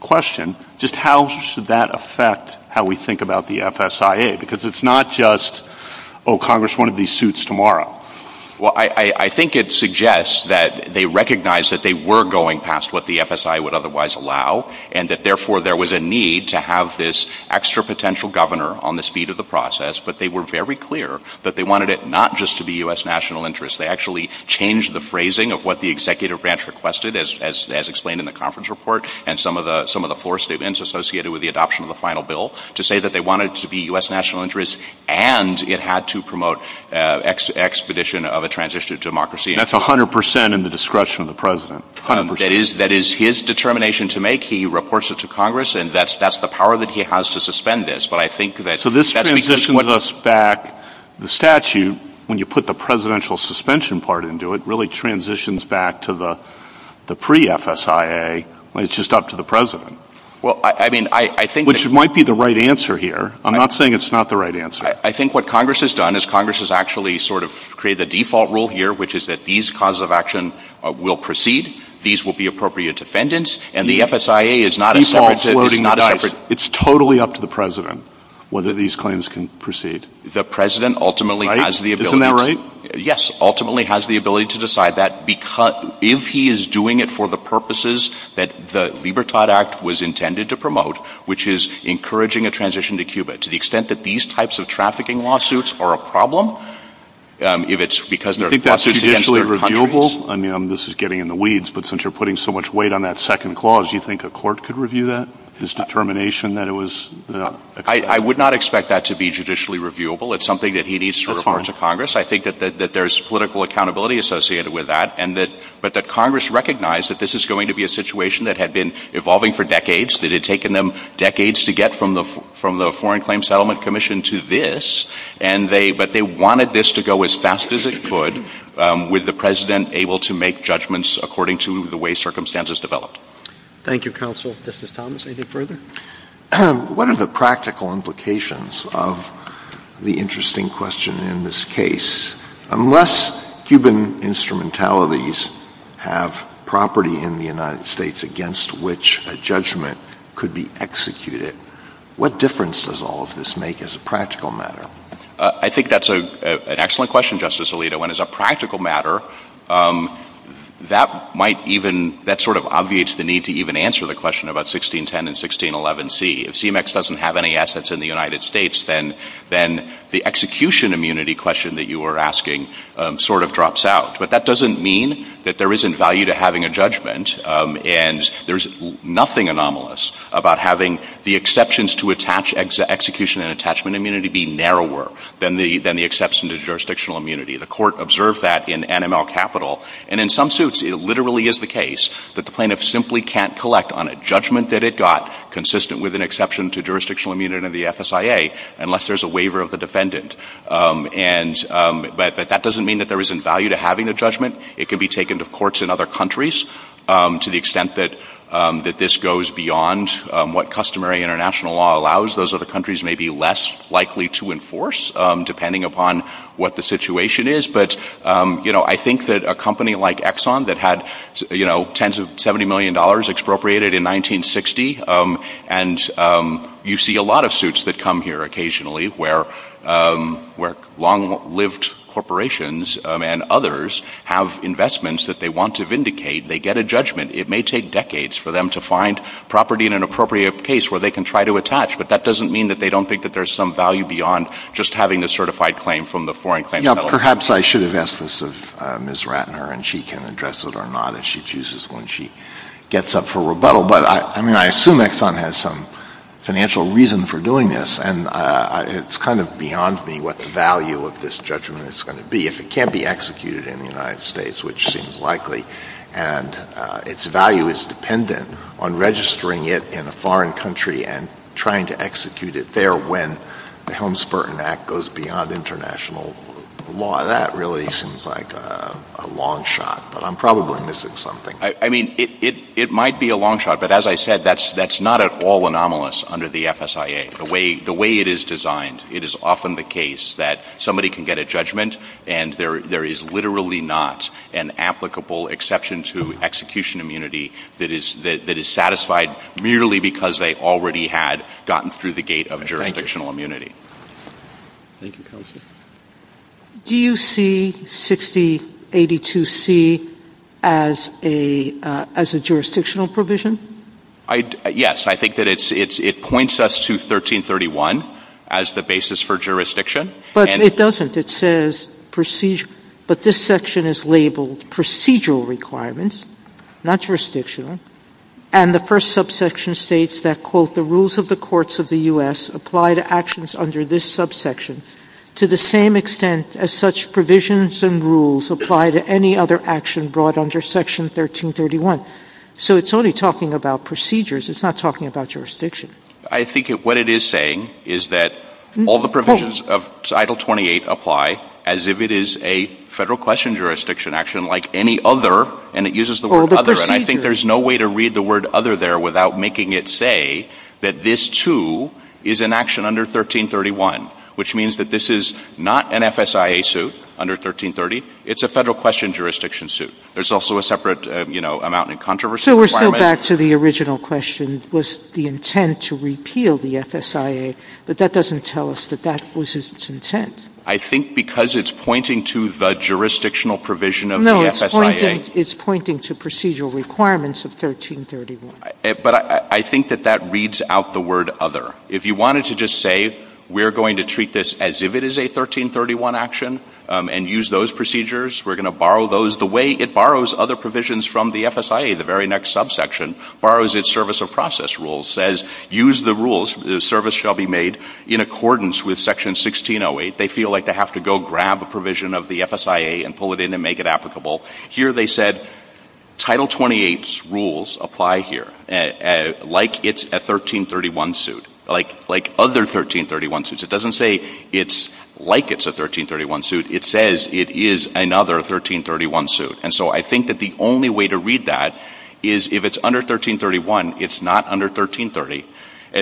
question. Just how should that affect how we think about the FSIA? Because it's not just, oh, Congress wanted these suits tomorrow. Well, I think it suggests that they recognized that they were going past what the FSIA would otherwise allow and that therefore there was a need to have this extra potential governor on the speed of the process, but they were very clear that they wanted it not just to be U.S. national interest. They actually changed the phrasing of what the executive branch requested, as explained in the conference report, and some of the floor statements associated with the adoption of the final bill to say that they wanted it to be U.S. national interest and it had to promote expedition of a transition of democracy. That's 100 percent in the discretion of the president. That is his determination to make. He reports it to Congress, and that's the power that he has to suspend this. So this transitions us back, the statute, when you put the presidential suspension part into it, really transitions back to the pre-FSIA when it's just up to the president. Which might be the right answer here. I'm not saying it's not the right answer. I think what Congress has done is Congress has actually sort of created the default rule here, which is that these causes of action will proceed, these will be appropriate defendants, and the FSIA is not a separate thing. It's totally up to the president whether these claims can proceed. The president ultimately has the ability to decide that. If he is doing it for the purposes that the Libertad Act was intended to promote, which is encouraging a transition to Cuba, to the extent that these types of trafficking lawsuits are a problem, if it's because they're... Do you think that's judicially reviewable? I mean, this is getting in the weeds, but since you're putting so much weight on that second clause, do you think a court could review that, this determination that it was... I would not expect that to be judicially reviewable. It's something that he needs to refer to Congress. I think that there's political accountability associated with that, but that Congress recognized that this is going to be a situation that had been evolving for decades, that it had taken them decades to get from the Foreign Claims Settlement Commission to this, but they wanted this to go as fast as it could, with the President able to make judgments according to the way circumstances developed. Thank you, Counsel. Justice Thomas, anything further? What are the practical implications of the interesting question in this case? Unless Cuban instrumentalities have property in the United States against which a judgment could be executed, what difference does all of this make as a practical matter? I think that's an excellent question, Justice Alito. And as a practical matter, that might even... that sort of obviates the need to even answer the question about 1610 and 1611c. If CMEX doesn't have any assets in the United States, then the execution immunity question that you were asking sort of drops out. But that doesn't mean that there isn't value to having a judgment, and there's nothing anomalous about having the exceptions to execution and attachment immunity be narrower than the exception to jurisdictional immunity. The court observed that in NML Capital. And in some suits, it literally is the case that the plaintiff simply can't collect on a judgment that it got, consistent with an exception to jurisdictional immunity under the FSIA, unless there's a waiver of the defendant. But that doesn't mean that there isn't value to having a judgment. It can be taken to courts in other countries. To the extent that this goes beyond what customary international law allows, those other countries may be less likely to enforce, depending upon what the situation is. But, you know, I think that a company like Exxon that had, you know, $10 to $70 million expropriated in 1960, and you see a lot of suits that come here occasionally where long-lived corporations and others have investments that they want to vindicate. They get a judgment. It may take decades for them to find property in an appropriate case where they can try to attach. But that doesn't mean that they don't think that there's some value beyond just having a certified claim from the foreign claimant. Yeah, perhaps I should have asked this of Ms. Ratner, and she can address it or not if she chooses when she gets up for rebuttal. But, I mean, I assume Exxon has some financial reason for doing this, and it's kind of beyond me what the value of this judgment is going to be. If it can't be executed in the United States, which seems likely, and its value is dependent on registering it in a foreign country and trying to execute it there when the Helms-Burton Act goes beyond international law, that really seems like a long shot, but I'm probably missing something. I mean, it might be a long shot, but as I said, that's not at all anomalous under the FSIA. The way it is designed, it is often the case that somebody can get a judgment, and there is literally not an applicable exception to execution immunity that is satisfied merely because they already had gotten through the gate of jurisdictional immunity. Thank you, Counselor. Do you see 6082C as a jurisdictional provision? Yes. I think that it points us to 1331 as the basis for jurisdiction. But it doesn't. It says procedural. The first section is labeled procedural requirements, not jurisdictional, and the first subsection states that, quote, the rules of the courts of the U.S. apply to actions under this subsection to the same extent as such provisions and rules apply to any other action brought under Section 1331. So it's only talking about procedures. It's not talking about jurisdiction. I think what it is saying is that all the provisions of Title 28 apply as if it is a federal question jurisdiction action like any other, and it uses the word other. And I think there's no way to read the word other there without making it say that this, too, is an action under 1331, which means that this is not an FSIA suit under 1330. It's a federal question jurisdiction suit. There's also a separate amount in controversy. Sotomayor, we're still back to the original question, was the intent to repeal the FSIA, but that doesn't tell us that that was its intent. I think because it's pointing to the jurisdictional provision of the FSIA. No, it's pointing to procedural requirements of 1331. But I think that that reads out the word other. If you wanted to just say we're going to treat this as if it is a 1331 action and use those procedures, we're going to borrow those the way it borrows other provisions from the FSIA, the very next subsection, borrows its service of process rules, says use the rules, the service shall be made in accordance with Section 1608. They feel like they have to go grab a provision of the FSIA and pull it in and make it applicable. Here they said Title 28's rules apply here like it's a 1331 suit, like other 1331 suits. It doesn't say it's like it's a 1331 suit. It says it is another 1331 suit. And so I think that the only way to read that is if it's under 1331, it's not under 1330.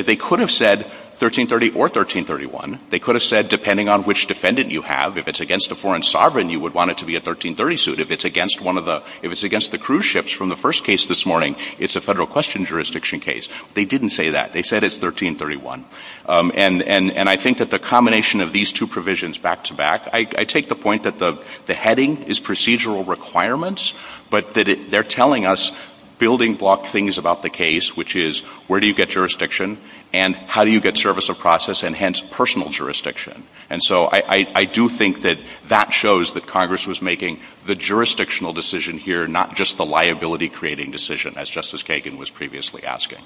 They could have said 1330 or 1331. They could have said depending on which defendant you have, if it's against a foreign sovereign you would want it to be a 1330 suit. If it's against the cruise ships from the first case this morning, it's a federal question jurisdiction case. They didn't say that. They said it's 1331. And I think that the combination of these two provisions back-to-back, I take the point that the heading is procedural requirements, but that they're telling us building block things about the case, which is where do you get jurisdiction and how do you get service of process and hence personal jurisdiction. And so I do think that that shows that Congress was making the jurisdictional decision here, not just the liability-creating decision, as Justice Kagan was previously asking.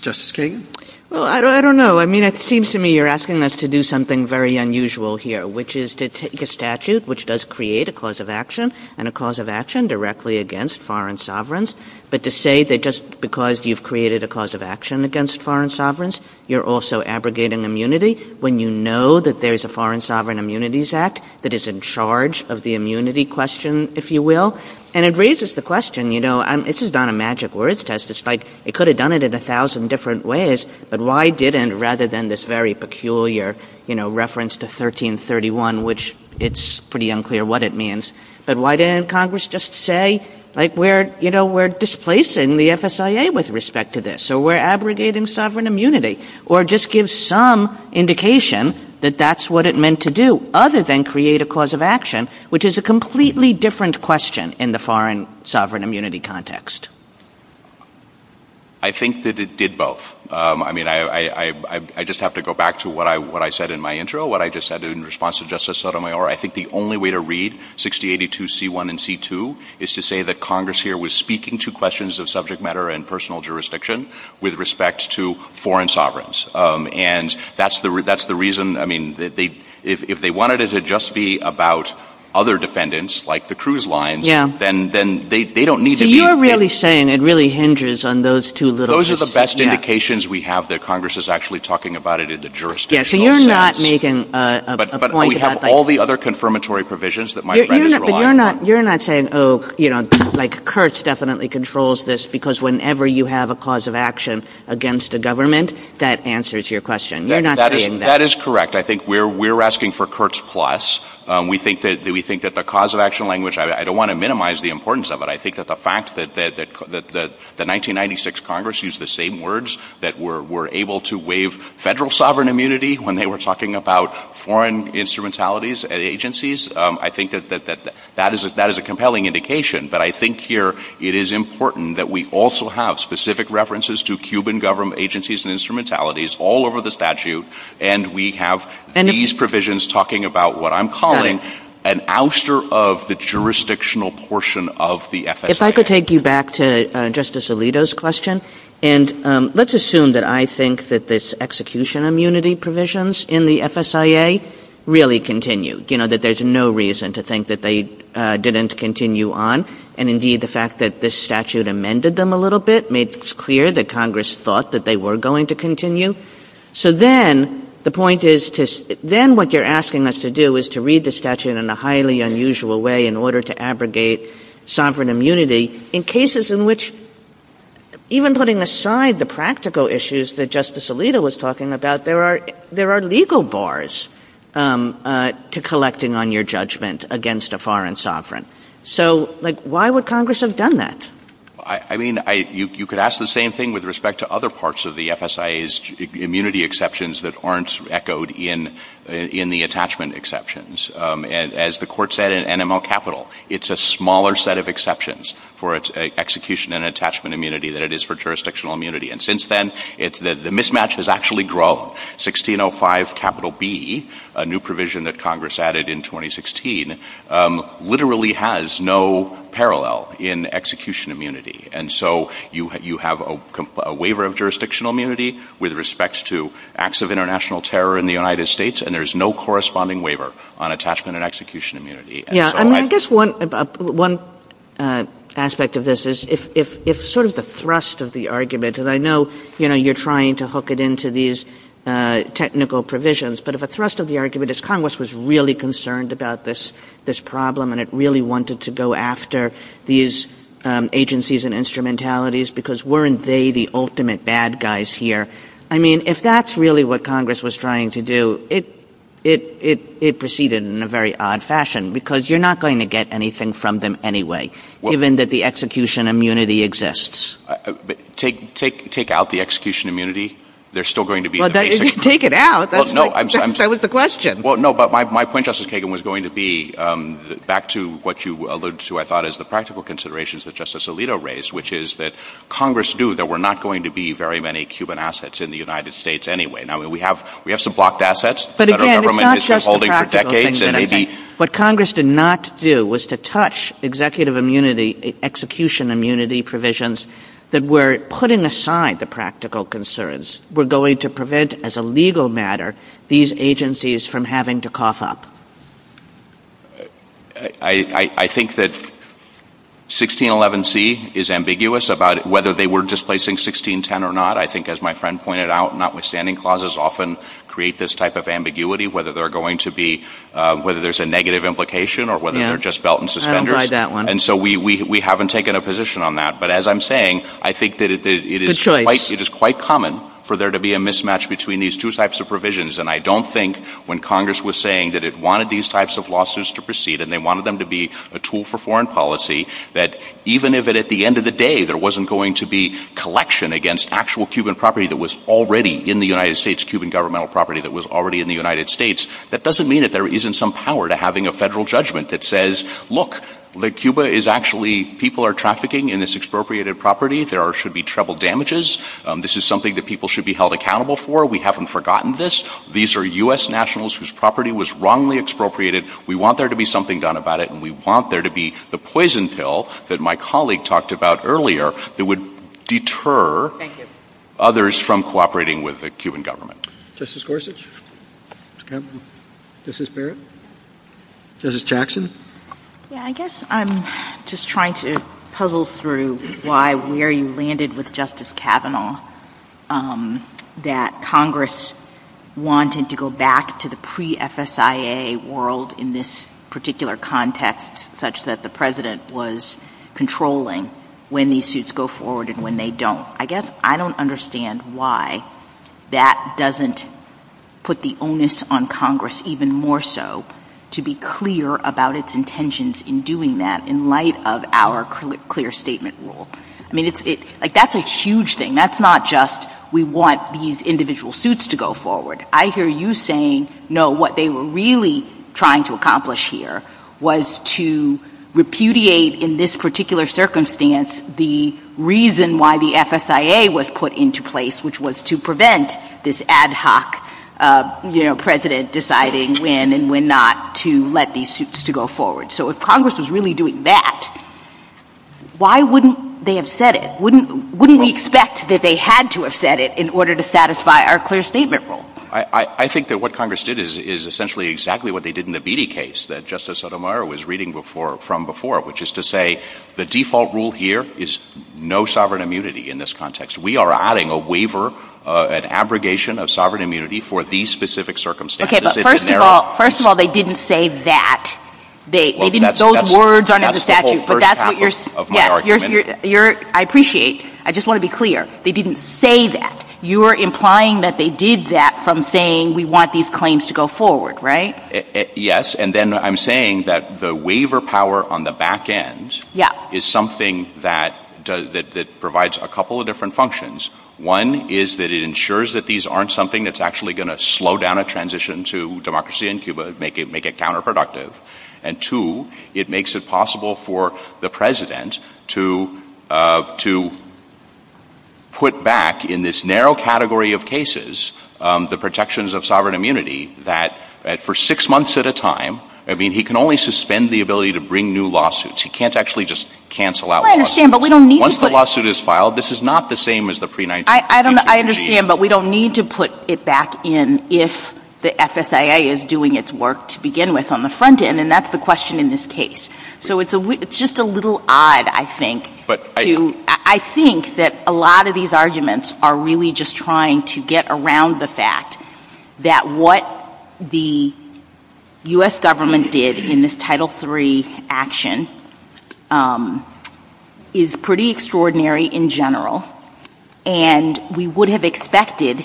Justice Kagan? Well, I don't know. I mean, it seems to me you're asking us to do something very unusual here, which is to take a statute which does create a cause of action and a cause of action directly against foreign sovereigns, but to say that just because you've created a cause of action against foreign sovereigns, you're also abrogating immunity when you know that there's a Foreign Sovereign Immunities Act that is in charge of the immunity question, if you will. And it raises the question, you know, and this is not a magic words test. It's like they could have done it in a thousand different ways, but why didn't, rather than this very peculiar, you know, reference to 1331, which it's pretty unclear what it means, but why didn't Congress just say, like, you know, we're displacing the FSIA with respect to this, so we're abrogating sovereign immunity, or just give some indication that that's what it meant to do, other than create a cause of action, which is a completely different question in the foreign sovereign immunity context. I think that it did both. I mean, I just have to go back to what I said in my intro, what I just said in response to Justice Sotomayor. I think the only way to read 6082C1 and C2 is to say that Congress here was speaking to questions of subject matter and personal jurisdiction with respect to foreign sovereigns. And that's the reason, I mean, if they wanted it to just be about other defendants, like the cruise lines, then they don't need to be. So you're really saying it really hinges on those two little pieces. Those are the best indications we have that Congress is actually talking about it in the jurisdictional sense. Yeah, so you're not making a point that, like... But we have all the other confirmatory provisions that might register a law. But you're not saying, oh, you know, like, Kurtz definitely controls this because whenever you have a cause of action against a government, that answers your question. You're not saying that. That is correct. I think we're asking for Kurtz Plus. We think that the cause of action language, I don't want to minimize the importance of it. I think that the fact that the 1996 Congress used the same words that were able to waive federal sovereign immunity when they were talking about foreign instrumentalities and agencies, I think that that is a compelling indication. But I think here it is important that we also have specific references to Cuban government agencies and instrumentalities all over the statute, and we have these provisions talking about what I'm calling an ouster of the jurisdictional portion of the FSIA. If I could take you back to Justice Alito's question, and let's assume that I think that this execution immunity provisions in the FSIA really continue, you know, that there's no reason to think that they didn't continue on, and indeed the fact that this statute amended them a little bit made it clear that Congress thought that they were going to continue. So then the point is to... in a highly unusual way in order to abrogate sovereign immunity in cases in which even putting aside the practical issues that Justice Alito was talking about, there are legal bars to collecting on your judgment against a foreign sovereign. So, like, why would Congress have done that? I mean, you could ask the same thing with respect to other parts of the FSIA's immunity exceptions that aren't echoed in the attachment exceptions. As the Court said in NML Capital, it's a smaller set of exceptions for execution and attachment immunity than it is for jurisdictional immunity. And since then, the mismatch has actually grown. 1605 capital B, a new provision that Congress added in 2016, literally has no parallel in execution immunity. And so you have a waiver of jurisdictional immunity with respect to acts of international terror in the United States, and there's no corresponding waiver on attachment and execution immunity. Yeah, and I guess one aspect of this is if sort of the thrust of the argument, and I know you're trying to hook it into these technical provisions, but if a thrust of the argument is Congress was really concerned about this problem and it really wanted to go after these agencies and instrumentalities because weren't they the ultimate bad guys here? I mean, if that's really what Congress was trying to do, it proceeded in a very odd fashion because you're not going to get anything from them anyway, given that the execution immunity exists. Take out the execution immunity. They're still going to be... Well, take it out. That was the question. Well, no, but my point, Justice Kagan, was going to be back to what you alluded to, I thought, is the practical considerations that Justice Alito raised, which is that Congress knew there were not going to be very many Cuban assets in the United States anyway. Now, we have some blocked assets that our government has been holding for decades, and maybe... What Congress did not do was to touch executive immunity, execution immunity provisions, that were putting aside the practical concerns, were going to prevent, as a legal matter, these agencies from having to cough up. I think that 1611C is ambiguous about whether they were displacing 1610 or not. I think, as my friend pointed out, notwithstanding clauses often create this type of ambiguity, whether they're going to be... whether there's a negative implication or whether they're just belt and suspenders. And so we haven't taken a position on that. But as I'm saying, I think that it is quite common for there to be a mismatch between these two types of provisions, and I don't think when Congress was saying that it wanted these types of lawsuits to proceed and they wanted them to be a tool for foreign policy, that even if at the end of the day there wasn't going to be collection against actual Cuban property that was already in the United States, Cuban governmental property that was already in the United States, that doesn't mean that there isn't some power to having a federal judgment that says, look, Cuba is actually... people are trafficking in this expropriated property. There should be treble damages. This is something that people should be held accountable for. We haven't forgotten this. These are U.S. nationals whose property was wrongly expropriated. We want there to be something done about it, and we want there to be the poison pill that my colleague talked about earlier that would deter others from cooperating with the Cuban government. Justice Gorsuch? Justice Barrett? Justice Jackson? Yeah, I guess I'm just trying to puzzle through why where you landed with Justice Kavanaugh, that Congress wanted to go back to the pre-FSIA world in this particular context, such that the president was controlling when these suits go forward and when they don't. I guess I don't understand why that doesn't put the onus on Congress even more so to be clear about its intentions in doing that in light of our clear statement rule. I mean, that's a huge thing. That's not just we want these individual suits to go forward. I hear you saying, no, what they were really trying to accomplish here was to repudiate in this particular circumstance the reason why the FSIA was put into place, which was to prevent this ad hoc president deciding when and when not to let these suits to go forward. So if Congress was really doing that, why wouldn't they have said it? Wouldn't we expect that they had to have said it in order to satisfy our clear statement rule? I think that what Congress did is essentially exactly what they did in the Beattie case. That Justice Sotomayor was reading from before, which is to say the default rule here is no sovereign immunity in this context. We are adding a waiver, an abrogation of sovereign immunity for these specific circumstances. Okay, but first of all, they didn't say that. Those words aren't in the statute, but that's what you're saying. I appreciate. I just want to be clear. They didn't say that. You were implying that they did that from saying we want these claims to go forward, right? Yes, and then I'm saying that the waiver power on the back end is something that provides a couple of different functions. One is that it ensures that these aren't something that's actually going to slow down a transition to democracy in Cuba and make it counterproductive. And two, it makes it possible for the president to put back in this narrow category of cases the protections of sovereign immunity that for six months at a time, I mean, he can only suspend the ability to bring new lawsuits. He can't actually just cancel out one. I understand, but we don't need to put... Once the lawsuit is filed, this is not the same as the pre-1980s. I understand, but we don't need to put it back in if the FSIA is doing its work to begin with on the front end, and that's the question in this case. So it's just a little odd, I think, to... I think that a lot of these arguments are really just trying to get around the fact that what the US government did in this Title III action is pretty extraordinary in general, and we would have expected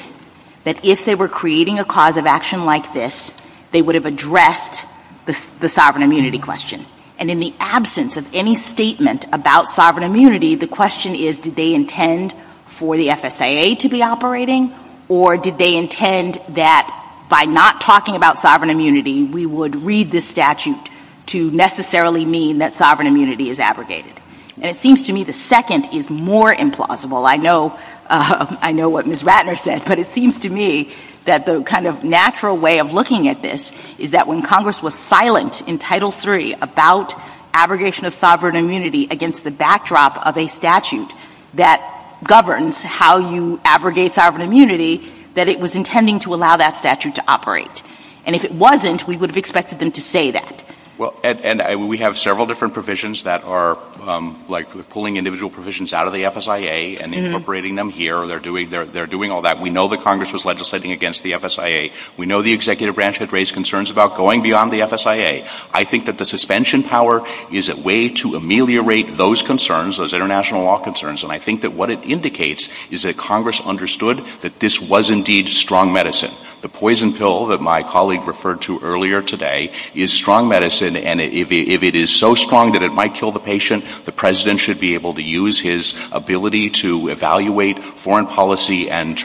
that if they were creating a cause of action like this, they would have addressed the sovereign immunity question. And in the absence of any statement about sovereign immunity, the question is, did they intend for the FSIA to be operating, or did they intend that by not talking about sovereign immunity, we would read this statute to necessarily mean that sovereign immunity is abrogated? And it seems to me the second is more implausible. I know what Ms Ratner said, but it seems to me that the kind of natural way of looking at this is that when Congress was silent in Title III about abrogation of sovereign immunity against the backdrop of a statute that governs how you abrogate sovereign immunity, that it was intending to allow that statute to operate. And if it wasn't, we would have expected them to say that. Well, and we have several different provisions that are, like, pulling individual provisions out of the FSIA and incorporating them here. They're doing all that. We know that Congress was legislating against the FSIA. We know the executive branch had raised concerns about going beyond the FSIA. I think that the suspension power is a way to ameliorate those concerns, those international law concerns, and I think that what it indicates is that Congress understood that this was indeed strong medicine. The poison pill that my colleague referred to earlier today is strong medicine, and if it is so strong that it might kill the patient, the president should be able to use his ability to evaluate foreign policy and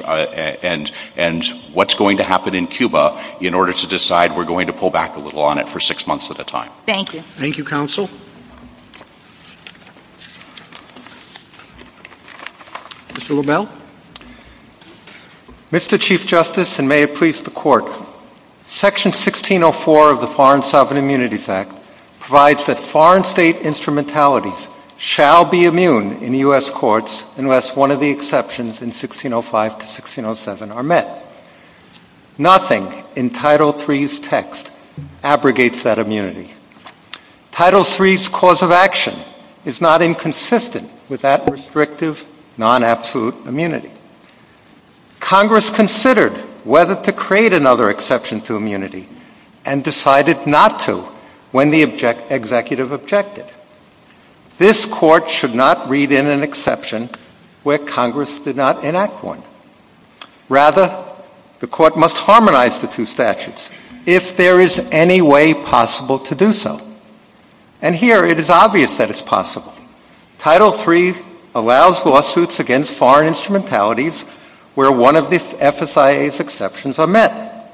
what's going to happen in Cuba in order to decide we're going to pull back a little on it for 6 months at a time. Thank you. Thank you, Counsel. Mr. LaBelle. Mr. Chief Justice, and may it please the Court, Section 1604 of the Foreign Sovereign Immunity Act provides that foreign state instrumentalities shall be immune in U.S. courts unless one of the exceptions in 1605 to 1607 are met. Nothing in Title III's text abrogates that immunity. Title III's cause of action is not inconsistent with that restrictive, non-absolute immunity. Congress considered whether to create another exception to immunity and decided not to when the executive objected. This Court should not read in an exception where Congress did not enact one. Rather, the Court must harmonize the two statutes if there is any way possible to do so. And here, it is obvious that it's possible. Title III allows lawsuits against foreign instrumentalities where one of the FSIA's exceptions are met.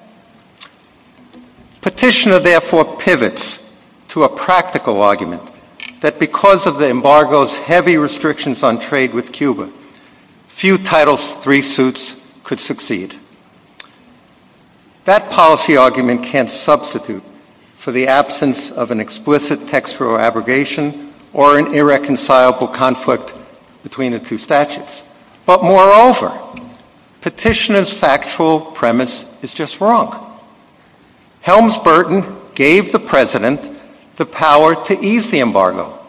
Petitioner, therefore, pivots to a practical argument that because of the embargo's heavy restrictions on trade with Cuba, few Title III suits could succeed. That policy argument can't substitute for the absence of an explicit textual abrogation or an irreconcilable conflict between the two statutes. But moreover, Petitioner's factual premise is just wrong. Helms Burton gave the President the power to ease the embargo,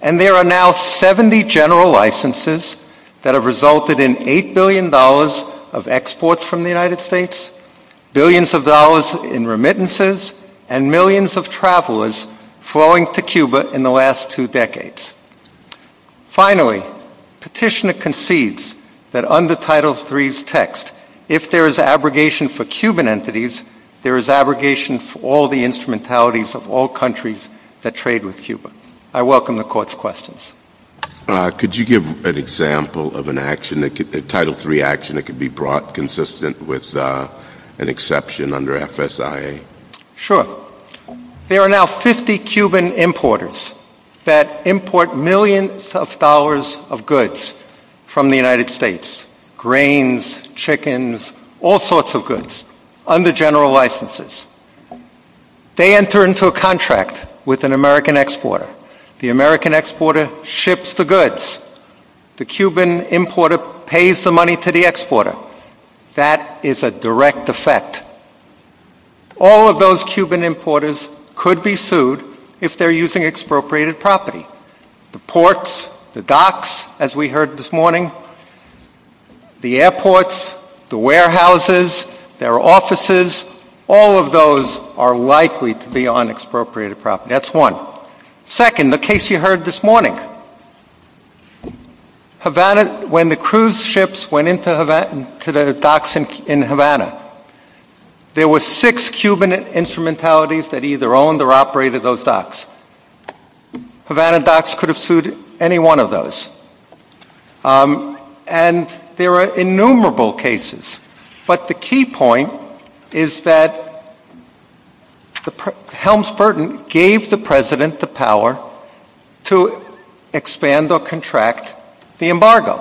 and there are now 70 general licenses that have resulted in $8 billion of exports from the United States, billions of dollars in remittances, and millions of travelers flowing to Cuba in the last two decades. Finally, Petitioner concedes that under Title III's text, if there is abrogation for Cuban entities, there is abrogation for all the instrumentalities of all countries that trade with Cuba. I welcome the Court's questions. Could you give an example of an action, a Title III action, that could be brought consistent with an exception under FSIA? Sure. There are now 50 Cuban importers that import millions of dollars of goods from the United States, grains, chickens, all sorts of goods, under general licenses. They enter into a contract with an American exporter. The American exporter ships the goods. The Cuban importer pays the money to the exporter. That is a direct effect. All of those Cuban importers could be sued if they're using expropriated property. The ports, the docks, as we heard this morning, the airports, the warehouses, their offices, all of those are likely to be on expropriated property. That's one. Second, the case you heard this morning. Havana, when the cruise ships went into the docks in Havana, there were six Cuban instrumentalities that either owned or operated those docks. Havana docks could have sued any one of those. And there are innumerable cases. But the key point is that Helms Burton gave the president the power to expand or contract the embargo.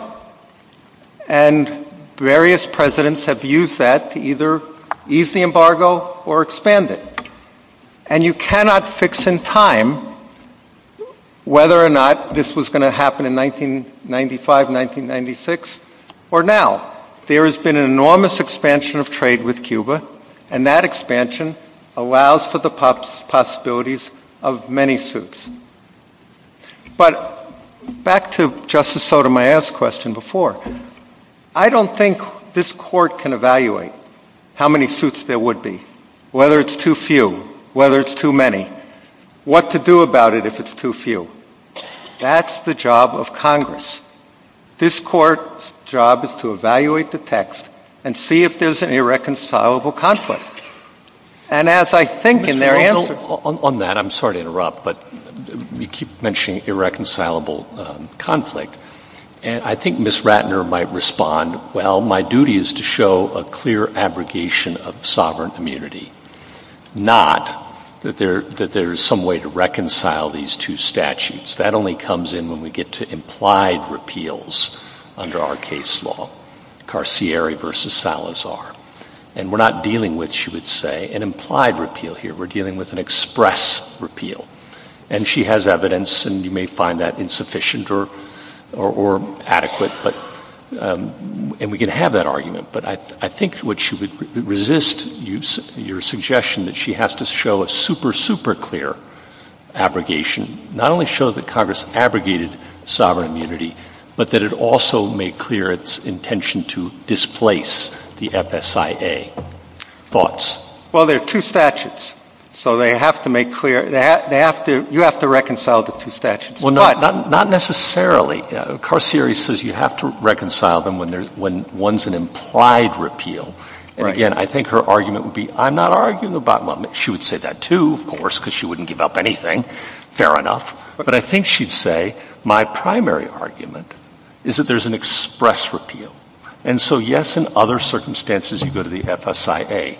And various presidents have used that to either ease the embargo or expand it. And you cannot fix in time whether or not this was going to happen in 1995, 1996, or now. There has been an enormous expansion of trade with Cuba, and that expansion allows for the possibilities of many suits. But back to Justice Sotomayor's question before. I don't think this Court can evaluate how many suits there would be, whether it's too few, whether it's too many, what to do about it if it's too few. That's the job of Congress. This Court's job is to evaluate the text and see if there's an irreconcilable conflict. And as I think in their answer... On that, I'm sorry to interrupt, but you keep mentioning irreconcilable conflict. I think Ms. Ratner might respond, well, my duty is to show a clear abrogation of sovereign immunity, not that there is some way to reconcile these two statutes. That only comes in when we get to implied repeals under our case law, Carcieri v. Salazar. And we're not dealing with, she would say, an implied repeal here. We're dealing with an express repeal. And she has evidence, and you may find that insufficient or adequate, and we can have that argument. But I think what she would resist, your suggestion that she has to show a super, super clear abrogation, not only show that Congress abrogated sovereign immunity, but that it also made clear its intention to displace the FSIA. Thoughts? Well, there are two statutes, so they have to make clear. You have to reconcile the two statutes. Well, not necessarily. Carcieri says you have to reconcile them when one's an implied repeal. And again, I think her argument would be, I'm not arguing about them. She would say that too, of course, because she wouldn't give up anything. Fair enough. But I think she'd say my primary argument is that there's an express repeal. And so, yes, in other circumstances you go to the FSIA.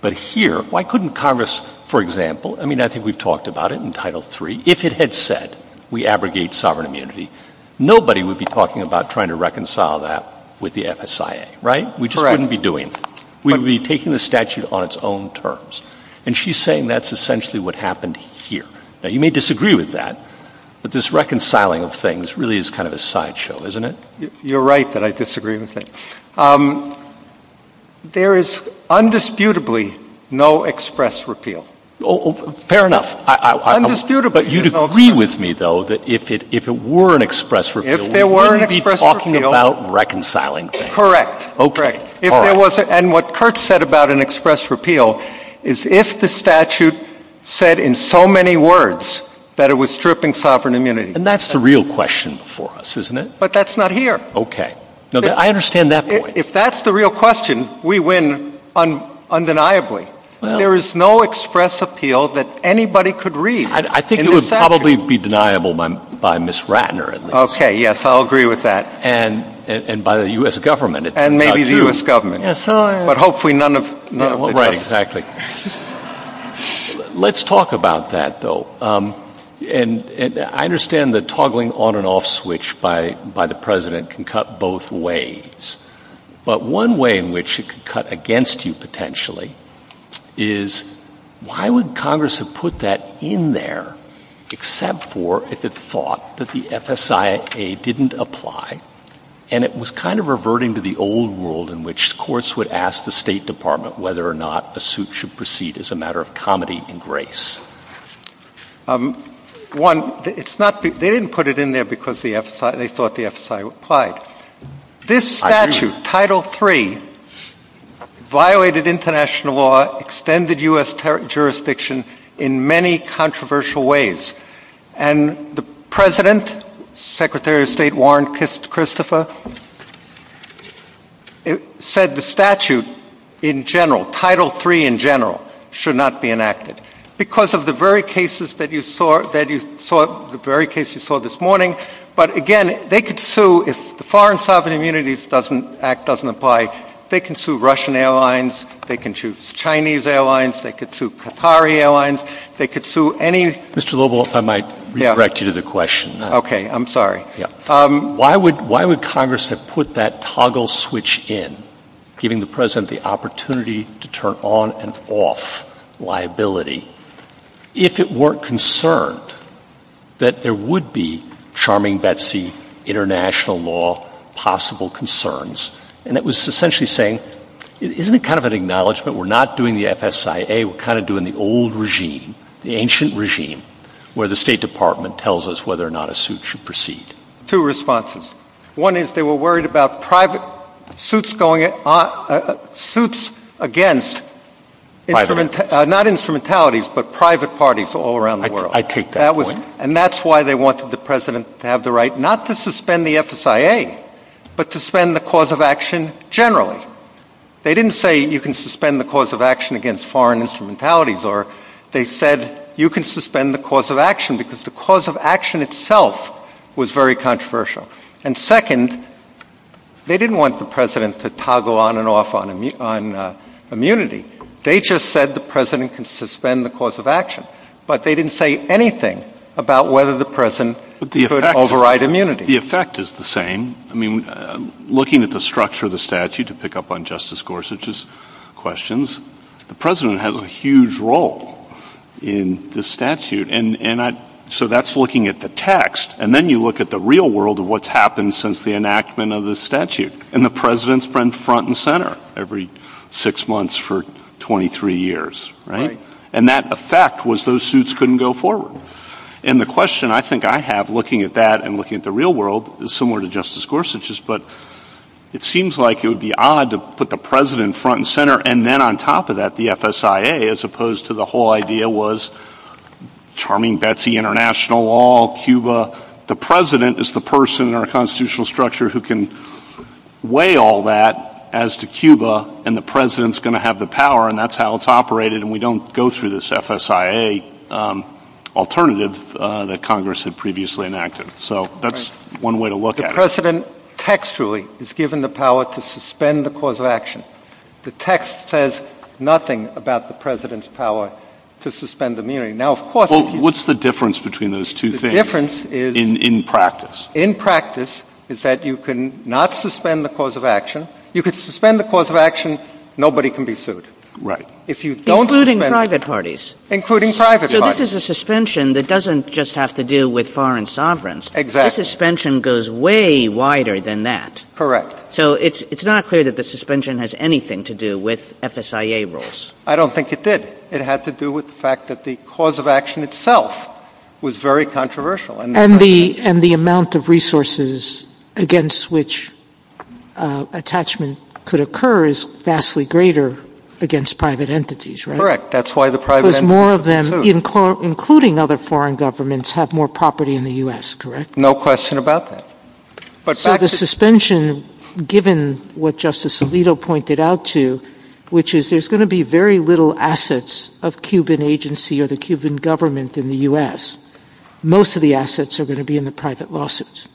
But here, why couldn't Congress, for example, I mean I think we've talked about it in Title III, if it had said we abrogate sovereign immunity, nobody would be talking about trying to reconcile that with the FSIA, right? We just wouldn't be doing that. We would be taking the statute on its own terms. And she's saying that's essentially what happened here. Now, you may disagree with that, but this reconciling of things really is kind of a sideshow, isn't it? You're right that I disagree with it. There is undisputably no express repeal. Oh, fair enough. Undisputably. But you'd agree with me, though, that if it were an express repeal, we wouldn't be talking about reconciling things. Correct. Okay. And what Kurt said about an express repeal is if the statute said in so many words that it was stripping sovereign immunity. And that's the real question for us, isn't it? But that's not here. Okay. I understand that point. If that's the real question, we win undeniably. There is no express repeal that anybody could read. I think it would probably be deniable by Ms. Ratner. Okay, yes, I'll agree with that. And by the U.S. government. And maybe the U.S. government. But hopefully none of them. Right, exactly. Let's talk about that, though. And I understand the toggling on and off switch by the president can cut both ways. But one way in which it could cut against you, potentially, is why would Congress have put that in there except for if it thought that the FSIA didn't apply, and it was kind of reverting to the old rule in which courts would ask the State Department whether or not a suit should proceed as a matter of comedy and grace. One, they didn't put it in there because they thought the FSIA applied. This statute, Title III, violated international law, extended U.S. jurisdiction in many controversial ways. And the president, Secretary of State Warren Christopher, said the statute in general, Title III in general, should not be enacted. Because of the very cases that you saw this morning. But again, they could sue if the Foreign Sovereign Immunities Act doesn't apply. They can sue Russian airlines. They can sue Chinese airlines. They could sue Qatari airlines. They could sue any— Mr. Lobel, if I might redirect you to the question. Okay, I'm sorry. Why would Congress have put that toggle switch in, giving the president the opportunity to turn on and off liability, if it weren't concerned that there would be charming Betsy international law possible concerns? And it was essentially saying, isn't it kind of an acknowledgement we're not doing the FSIA, we're kind of doing the old regime, the ancient regime, where the State Department tells us whether or not a suit should proceed. Two responses. One is they were worried about private suits against— Private parties. Not instrumentalities, but private parties all around the world. I take that point. And that's why they wanted the president to have the right not to suspend the FSIA, but to suspend the cause of action generally. First of all, they didn't say you can suspend the cause of action against foreign instrumentalities, or they said you can suspend the cause of action because the cause of action itself was very controversial. And second, they didn't want the president to toggle on and off on immunity. They just said the president can suspend the cause of action, but they didn't say anything about whether the president could override immunity. The effect is the same. Looking at the structure of the statute, to pick up on Justice Gorsuch's questions, the president has a huge role in the statute. So that's looking at the text. And then you look at the real world of what's happened since the enactment of the statute. And the president's been front and center every six months for 23 years. And that effect was those suits couldn't go forward. And the question I think I have looking at that and looking at the real world is similar to Justice Gorsuch's, but it seems like it would be odd to put the president front and center, and then on top of that the FSIA as opposed to the whole idea was charming Betsy, international law, Cuba. The president is the person in our constitutional structure who can weigh all that as to Cuba, and the president's going to have the power, and that's how it's operated, and we don't go through this FSIA alternative that Congress had previously enacted. So that's one way to look at it. The president textually is given the power to suspend the cause of action. The text says nothing about the president's power to suspend immunity. Now, of course, Well, what's the difference between those two things in practice? In practice is that you can not suspend the cause of action. You can suspend the cause of action, nobody can be sued. Right. Including private parties. Including private parties. So this is a suspension that doesn't just have to do with foreign sovereigns. Exactly. This suspension goes way wider than that. Correct. So it's not clear that the suspension has anything to do with FSIA rules. I don't think it did. It had to do with the fact that the cause of action itself was very controversial. And the amount of resources against which attachment could occur is vastly greater against private entities, right? Correct. That's why the private entities are sued. Because more of them, including other foreign governments, have more property in the U.S., correct? No question about that. So the suspension, given what Justice Alito pointed out to, which is there's going to be very little assets of Cuban agency or the Cuban government in the U.S. Most of the assets are going to be in the private lawsuits.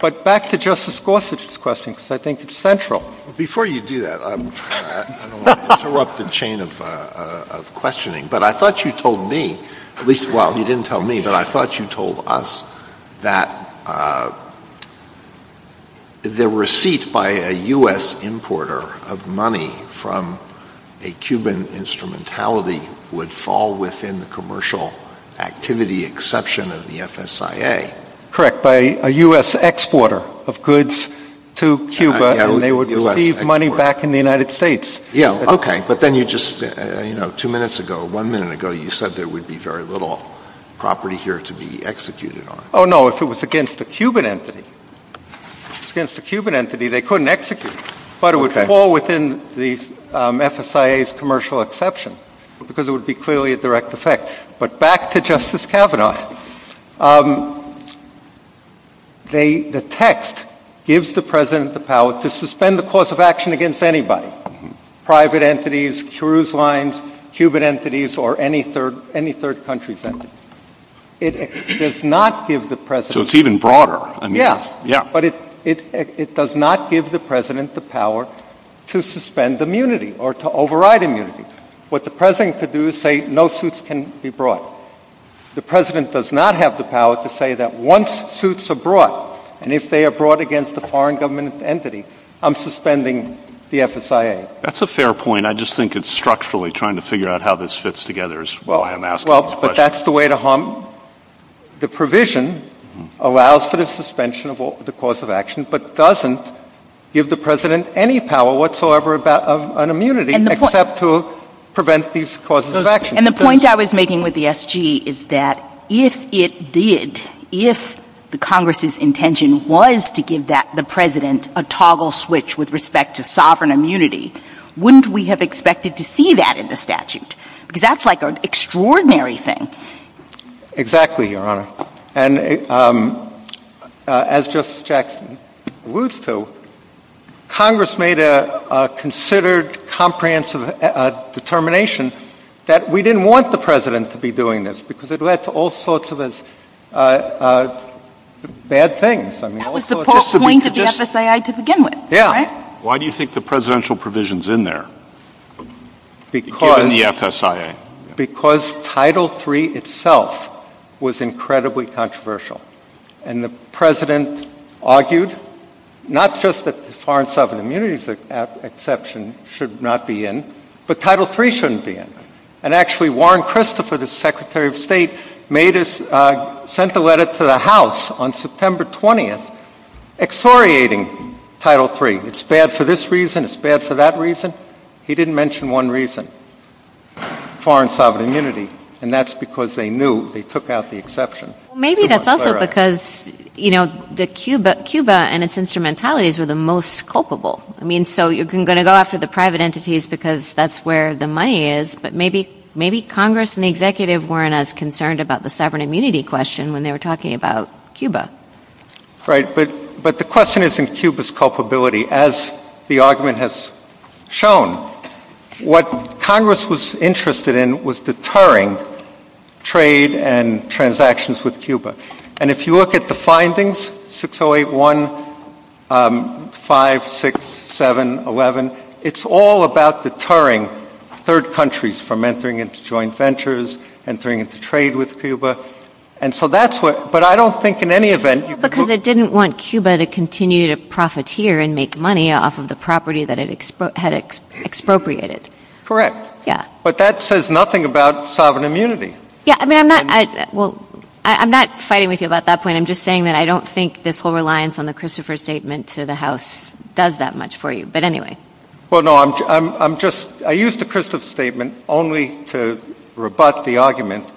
But back to Justice Gorsuch's question, because I think it's central. Before you do that, I don't want to interrupt the chain of questioning, but I thought you told me, at least while you didn't tell me, that the receipt by a U.S. importer of money from a Cuban instrumentality would fall within the commercial activity exception of the FSIA. Correct. By a U.S. exporter of goods to Cuba, they would receive money back in the United States. Yeah, okay. But then you just, you know, two minutes ago, one minute ago, you said there would be very little property here to be executed on. Oh, no. If it was against a Cuban entity. If it was against a Cuban entity, they couldn't execute. But it would fall within the FSIA's commercial exception, because it would be clearly a direct effect. But back to Justice Kavanaugh. The text gives the President the power to suspend the course of action against anybody, private entities, cruise lines, Cuban entities, or any third country entity. It does not give the President... So it's even broader. Yeah, but it does not give the President the power to suspend immunity or to override immunity. What the President could do is say, no suits can be brought. The President does not have the power to say that once suits are brought, and if they are brought against a foreign government entity, I'm suspending the FSIA. That's a fair point. I just think it's structurally trying to figure out how this fits together. Well, but that's the way to harm... The provision allows for the suspension of the course of action, but doesn't give the President any power whatsoever about an immunity, except to prevent these courses of action. And the point I was making with the SG is that if it did, if Congress's intention was to give the President a toggle switch with respect to sovereign immunity, wouldn't we have expected to see that in the statute? Because that's like an extraordinary thing. Exactly, Your Honor. And as Justice Jackson alludes to, Congress made a considered, comprehensive determination that we didn't want the President to be doing this, because it led to all sorts of bad things. That was the point of the FSIA to begin with, right? Why do you think the Presidential provision's in there, given the FSIA? Because Title III itself was incredibly controversial. And the President argued not just that the foreign sovereign immunity exception should not be in, but Title III shouldn't be in. And actually, Warren Christopher, the Secretary of State, sent a letter to the House on September 20th, exhoriating Title III. It's bad for this reason, it's bad for that reason. He didn't mention one reason, foreign sovereign immunity, and that's because they knew they took out the exception. Maybe that's also because Cuba and its instrumentalities are the most culpable. So you're going to go after the private entities because that's where the money is, but maybe Congress and the Executive weren't as concerned about the sovereign immunity question when they were talking about Cuba. Right, but the question isn't Cuba's culpability. As the argument has shown, what Congress was interested in was deterring trade and transactions with Cuba. And if you look at the findings, 608156711, it's all about deterring third countries from entering into joint ventures, entering into trade with Cuba. And so that's what, but I don't think in any event... that it had expropriated. Yeah. But that says nothing about sovereign immunity. Yeah, I mean, I'm not, well, I'm not fighting with you about that point. I'm just saying that I don't think this whole reliance on the Christopher Statement to the House does that much for you, but anyway. Well, no, I'm just, I used the Christopher Statement only to rebut the argument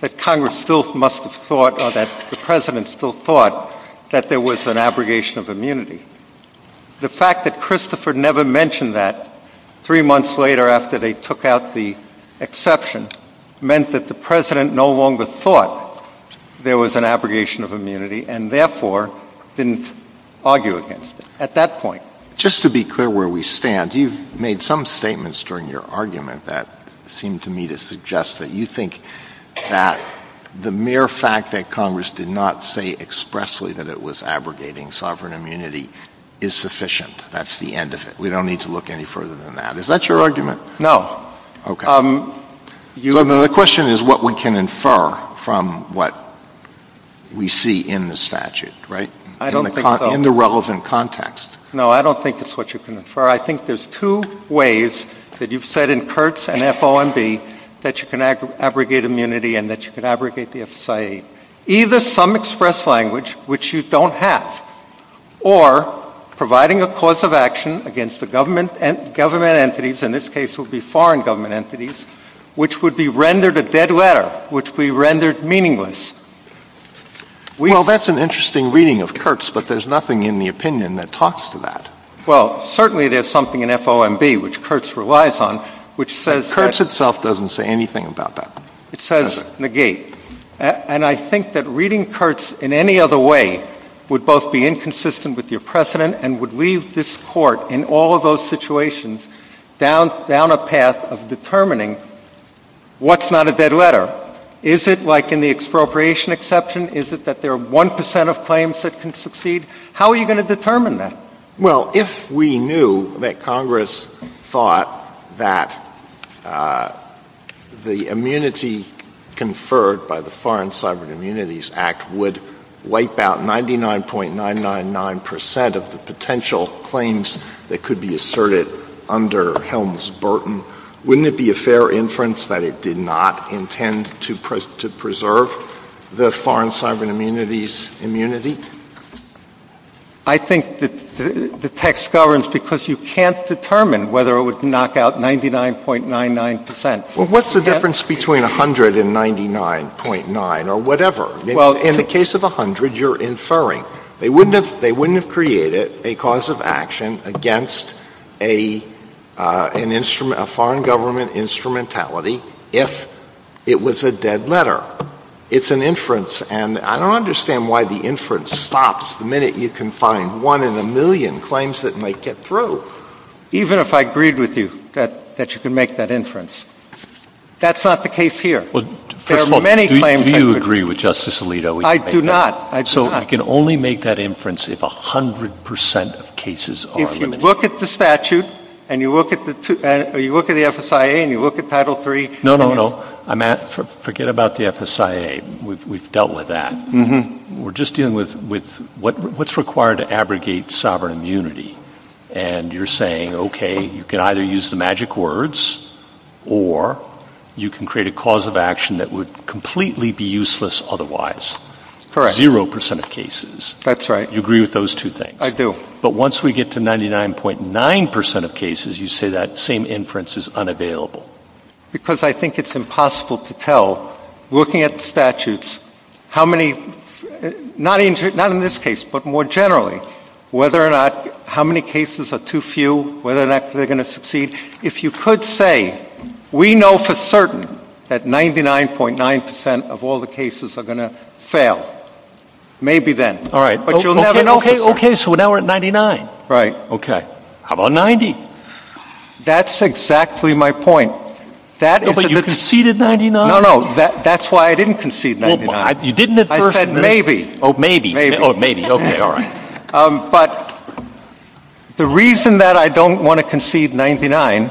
that Congress still must have thought or that the President still thought that there was an abrogation of immunity. The fact that Christopher never mentioned that, three months later after they took out the exception, meant that the President no longer thought there was an abrogation of immunity and therefore didn't argue against it at that point. Just to be clear where we stand, you've made some statements during your argument that seemed to me to suggest that you think that the mere fact that Congress did not say expressly that it was abrogating sovereign immunity is sufficient. That's the end of it. We don't need to look any further than that. Is that your argument? No. Okay. The question is what we can infer from what we see in the statute, right? In the relevant context. No, I don't think that's what you can infer. I think there's two ways that you've said in Kurtz and FOMB that you can abrogate immunity and that you can abrogate the FSA. Either some express language, which you don't have, or providing a cause of action against the government entities, in this case it would be foreign government entities, which would be rendered a dead letter, which would be rendered meaningless. Well, that's an interesting reading of Kurtz, but there's nothing in the opinion that talks to that. Well, certainly there's something in FOMB, which Kurtz relies on, which says that Kurtz itself doesn't say anything about that. It says negate. And I think that reading Kurtz in any other way would both be inconsistent with your precedent and would leave this Court, in all of those situations, down a path of determining what's not a dead letter. Is it like in the expropriation exception? Is it that there are 1% of claims that can succeed? How are you going to determine that? Well, if we knew that Congress thought that the immunity conferred by the Foreign Cyber Immunities Act would wipe out 99.999% of the potential claims that could be asserted under Helms-Burton, wouldn't it be a fair inference that it did not intend to preserve the Foreign Cyber Immunities immunity? I think the text governs because you can't determine whether it would knock out 99.99%. Well, what's the difference between 100 and 99.9 or whatever? Well, in the case of 100, you're inferring. They wouldn't have created a cause of action against a foreign government instrumentality if it was a dead letter. It's an inference. And I don't understand why the inference stops the minute you can find one in a million claims that might get through. Even if I agreed with you that you can make that inference, that's not the case here. Well, first of all, do you agree with Justice Alito? I do not. So I can only make that inference if 100% of cases are. If you look at the statute and you look at the FSIA and you look at Title III. No, no, no. Forget about the FSIA. We've dealt with that. We're just dealing with what's required to abrogate sovereign immunity. And you're saying, okay, you can either use the magic words or you can create a cause of action that would completely be useless otherwise. Correct. Zero percent of cases. That's right. You agree with those two things? I do. But once we get to 99.9% of cases, you say that same inference is unavailable. Because I think it's impossible to tell, looking at the statutes, how many, not in this case, but more generally, whether or not, how many cases are too few, whether or not they're going to succeed. If you could say, we know for certain that 99.9% of all the cases are going to fail, maybe then. All right. Okay, so now we're at 99. Right. Okay. How about 90? That's exactly my point. But you conceded 99? No, no. That's why I didn't concede 99. You didn't at first. I said maybe. Oh, maybe. Maybe. Oh, maybe. Okay, all right. But the reason that I don't want to concede 99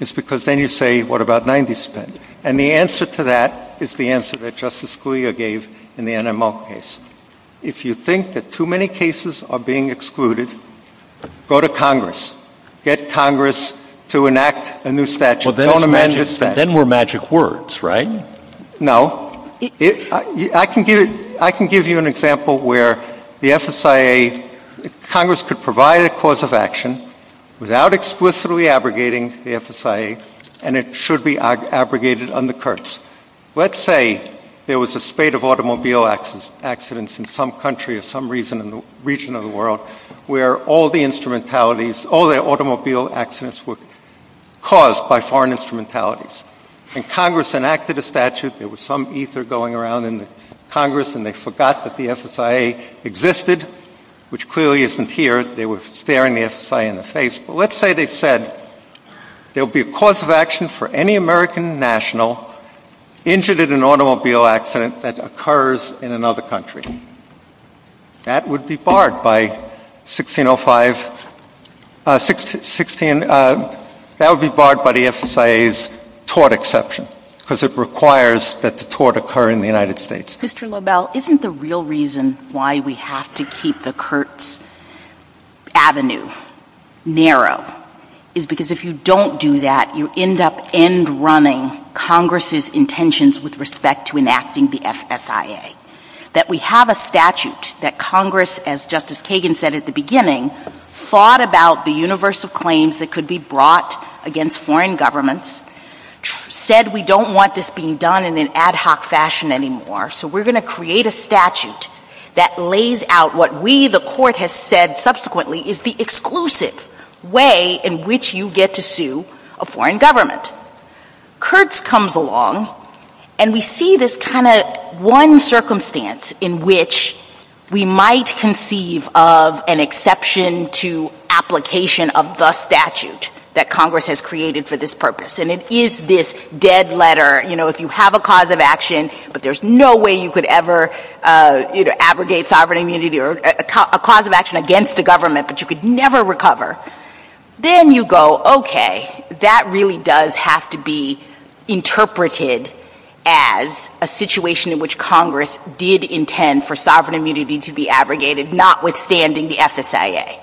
is because then you say, what about 90%? And the answer to that is the answer that Justice Scalia gave in the NML case. If you think that too many cases are being excluded, go to Congress. Get Congress to enact a new statute. Well, then we're magic words, right? No. I can give you an example where the FSIA, Congress could provide a cause of action without explicitly abrogating the FSIA, and it should be abrogated on the curse. Let's say there was a spate of automobile accidents in some country or some region of the world where all the automobile accidents were caused by foreign instrumentalities. And Congress enacted a statute. There was some ether going around in Congress, and they forgot that the FSIA existed, which clearly isn't here. They were staring the FSIA in the face. But let's say they said there will be a cause of action for any American national injured in an automobile accident that occurs in another country. That would be barred by 1605 — that would be barred by the FSIA's tort exception, because it requires that the tort occur in the United States. Isn't the real reason why we have to keep the Kurtz Avenue narrow is because if you don't do that, you end up end-running Congress's intentions with respect to enacting the FSIA. That we have a statute that Congress, as Justice Kagan said at the beginning, thought about the universe of claims that could be brought against foreign governments, said we don't want this being done in an ad hoc fashion anymore, so we're going to create a statute that lays out what we, the court has said subsequently, is the exclusive way in which you get to sue a foreign government. Kurtz comes along, and we see this kind of one circumstance in which we might conceive of an exception to application of the statute that Congress has created for this purpose. And it is this dead letter, you know, if you have a cause of action, but there's no way you could ever abrogate sovereign immunity or a cause of action against the government that you could never recover, then you go, okay, that really does have to be interpreted as a situation in which Congress did intend for sovereign immunity to be abrogated, notwithstanding the FSIA.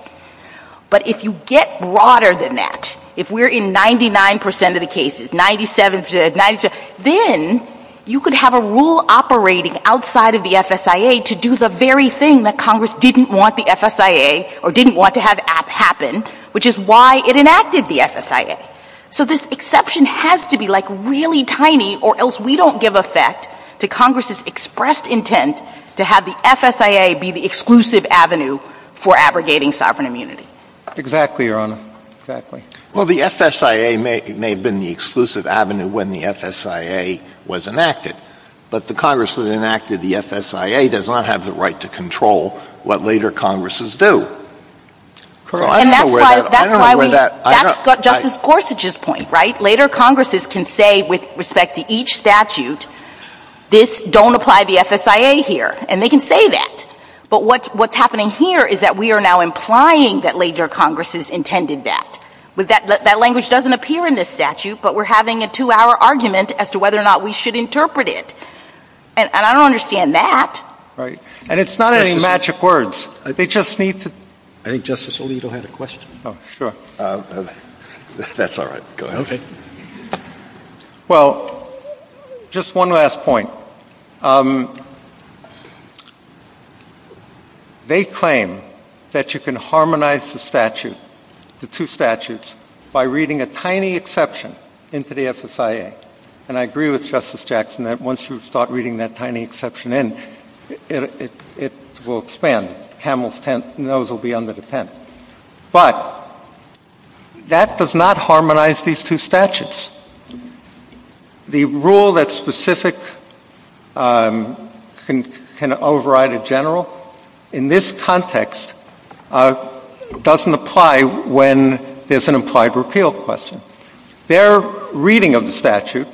But if you get broader than that, if we're in 99% of the cases, 97%, then you could have a rule operating outside of the FSIA to do the very thing that Congress didn't want the FSIA or didn't want to have happen, which is why it enacted the FSIA. So this exception has to be like really tiny or else we don't give effect to Congress's expressed intent to have the FSIA be the exclusive avenue for abrogating sovereign immunity. Exactly, Your Honor. Exactly. Well, the FSIA may have been the exclusive avenue when the FSIA was enacted, but the Congress that enacted the FSIA does not have the right to control what later Congresses do. And that's why we — I don't know where that — That's Justice Gorsuch's point, right? Later Congresses can say with respect to each statute, this — don't apply the FSIA here, and they can say that. But what's happening here is that we are now implying that later Congresses intended that. That language doesn't appear in this statute, but we're having a two-hour argument as to whether or not we should interpret it. And I don't understand that. Right. And it's not any magic words. They just need to — I think Justice Alito had a question. Oh, sure. That's all right. Go ahead. Okay. Well, just one last point. They claim that you can harmonize the statute, the two statutes, by reading a tiny exception into the FSIA. And I agree with Justice Jackson that once you start reading that tiny exception in, it will expand. Hamill's tent knows it will be under the tent. But that does not harmonize these two statutes. The rule that's specific can override a general. In this context, it doesn't apply when there's an implied repeal question. Their reading of the statute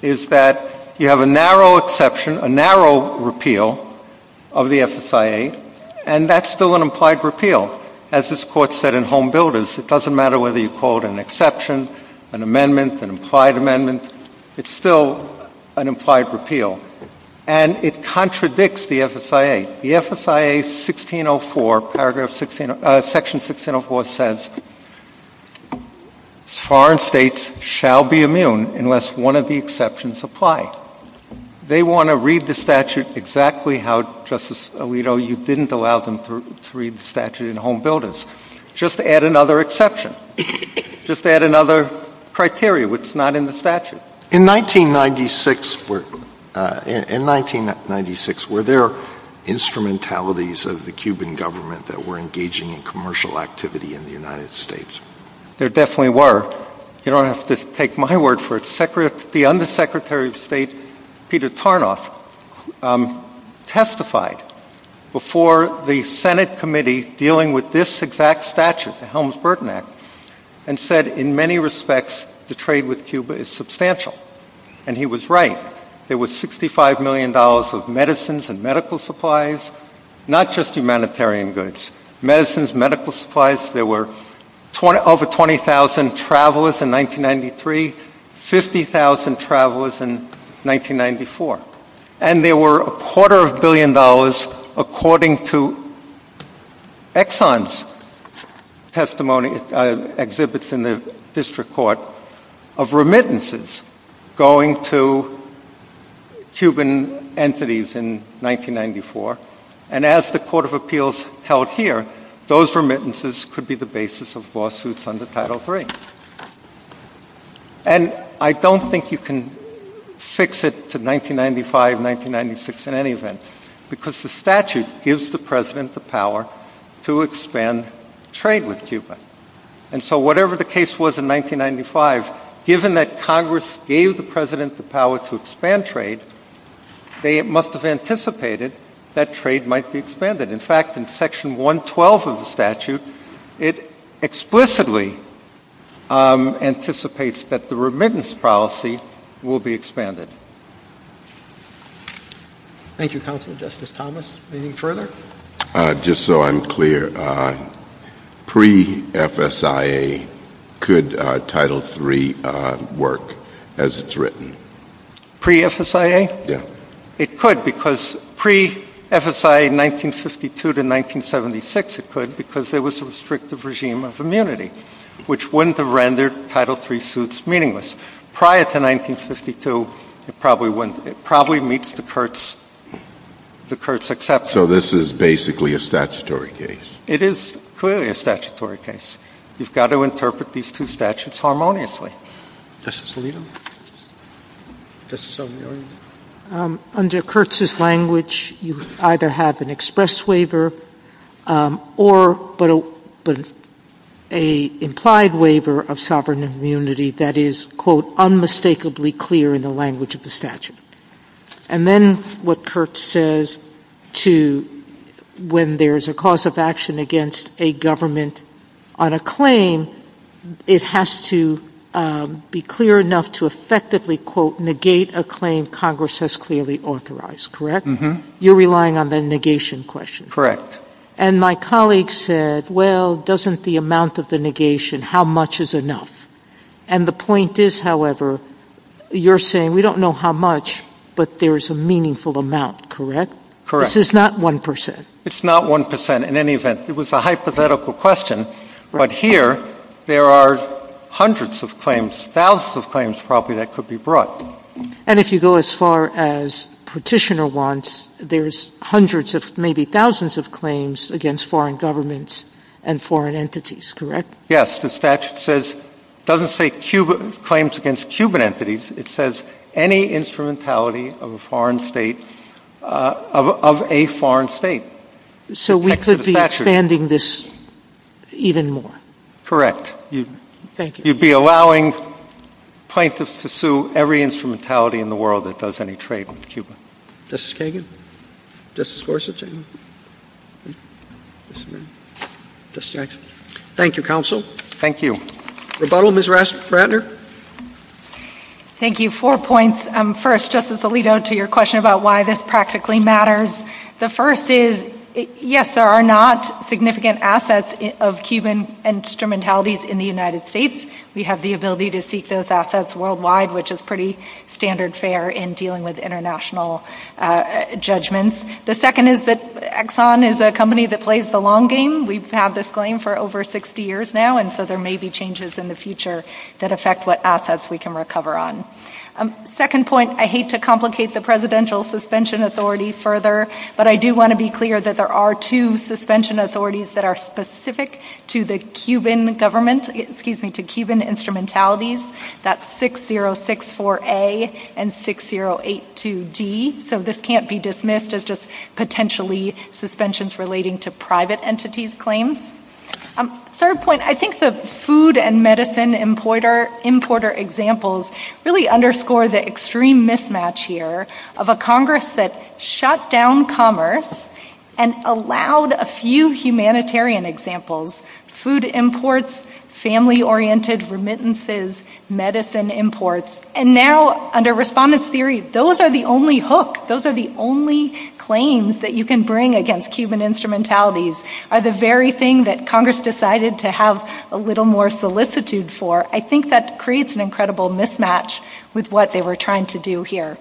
is that you have a narrow exception, a narrow repeal of the FSIA, and that's still an implied repeal. As this Court said in Home Builders, it doesn't matter whether you call it an exception, an amendment, an implied amendment, it's still an implied repeal. And it contradicts the FSIA. The FSIA Section 1604 says foreign states shall be immune unless one of the exceptions apply. They want to read the statute exactly how, Justice Alito, you didn't allow them to read the statute in Home Builders. Just add another exception. Just add another criteria. It's not in the statute. In 1996, were there instrumentalities of the Cuban government that were engaging in commercial activity in the United States? There definitely were. You don't have to take my word for it. The Undersecretary of State, Peter Tarnoff, testified before the Senate Committee dealing with this exact statute, the Helms-Burton Act, and said in many respects the trade with Cuba is substantial. And he was right. There was $65 million of medicines and medical supplies, not just humanitarian goods, medicines, medical supplies. There were over 20,000 travelers in 1993, 50,000 travelers in 1994. And there were a quarter of a billion dollars, according to Exxon's testimony, exhibits in the District Court of remittances going to Cuban entities in 1994. And as the Court of Appeals held here, those remittances could be the basis of lawsuits under Title III. And I don't think you can fix it to 1995, 1996, in any event, because the statute gives the President the power to expand trade with Cuba. And so whatever the case was in 1995, given that Congress gave the President the power to expand trade, they must have anticipated that trade might be expanded. In fact, in Section 112 of the statute, it explicitly anticipates that the remittance policy will be expanded. Thank you, Counselor. Justice Thomas, anything further? Just so I'm clear, pre-FSIA, could Title III work as it's written? Pre-FSIA? Yeah. It could, because pre-FSIA 1952 to 1976, it could, because there was a restrictive regime of immunity, which wouldn't have rendered Title III suits meaningless. Prior to 1952, it probably meets the court's exception. So this is basically a statutory case. It is clearly a statutory case. You've got to interpret these two statutes harmoniously. Justice Alito? Under Kurtz's language, you either have an express waiver or an implied waiver of sovereign immunity that is, quote, unmistakably clear in the language of the statute. And then what Kurtz says to when there's a cause of action against a government on a claim, it has to be clear enough to effectively, quote, negate a claim Congress has clearly authorized, correct? Mm-hmm. You're relying on the negation question. Correct. And my colleague said, well, doesn't the amount of the negation, how much is enough? And the point is, however, you're saying we don't know how much, but there's a meaningful amount, correct? Correct. This is not 1%. It's not 1%, in any event. It was a hypothetical question. But here, there are hundreds of claims, thousands of claims probably that could be brought. And if you go as far as Petitioner wants, there's hundreds of maybe thousands of claims against foreign governments and foreign entities, correct? Yes. The statute doesn't say claims against Cuban entities. It says any instrumentality of a foreign state. So we could be expanding this even more? Correct. Thank you. You'd be allowing plaintiffs to sue every instrumentality in the world that does any trade with Cuba. Justice Kagan? Justice Gorsuch? Thank you, counsel. Thank you. Rebuttal, Ms. Ratner? Thank you. Four points. First, Justice Alito, to your question about why this practically matters. The first is, yes, there are not significant assets of Cuban instrumentalities in the United States. We have the ability to seek those assets worldwide, which is pretty standard fare in dealing with international judgments. The second is that Exxon is a company that plays the long game. We've had this claim for over 60 years now, and so there may be changes in the future that affect what assets we can recover on. Second point, I hate to complicate the presidential suspension authority further, but I do want to be clear that there are two suspension authorities that are specific to the Cuban government, excuse me, to Cuban instrumentalities. That's 6064A and 6082D. So this can't be dismissed as just potentially suspensions relating to private entities' claims. Third point, I think the food and medicine importer examples really underscore the extreme mismatch here of a Congress that shut down commerce and allowed a few humanitarian examples, food imports, family-oriented remittances, medicine imports. And now, under Respondent's Theory, those are the only hook, those are the only claims that you can bring against Cuban instrumentalities, are the very thing that Congress decided to have a little more solicitude for. I think that creates an incredible mismatch with what they were trying to do here.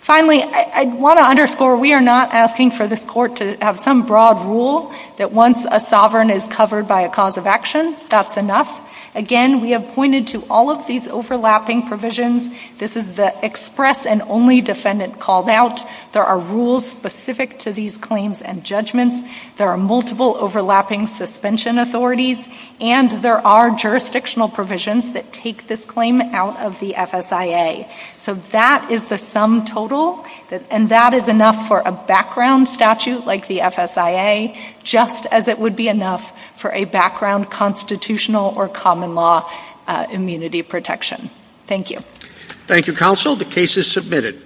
Finally, I want to underscore we are not asking for this court to have some broad rule that once a sovereign is covered by a cause of action, that's enough. Again, we have pointed to all of these overlapping provisions. This is the express and only defendant called out. There are rules specific to these claims and judgments. There are multiple overlapping suspension authorities, and there are jurisdictional provisions that take this claim out of the FSIA. So that is the sum total, and that is enough for a background statute like the FSIA, just as it would be enough for a background constitutional or common law immunity protection. Thank you. Thank you, counsel. The case is submitted.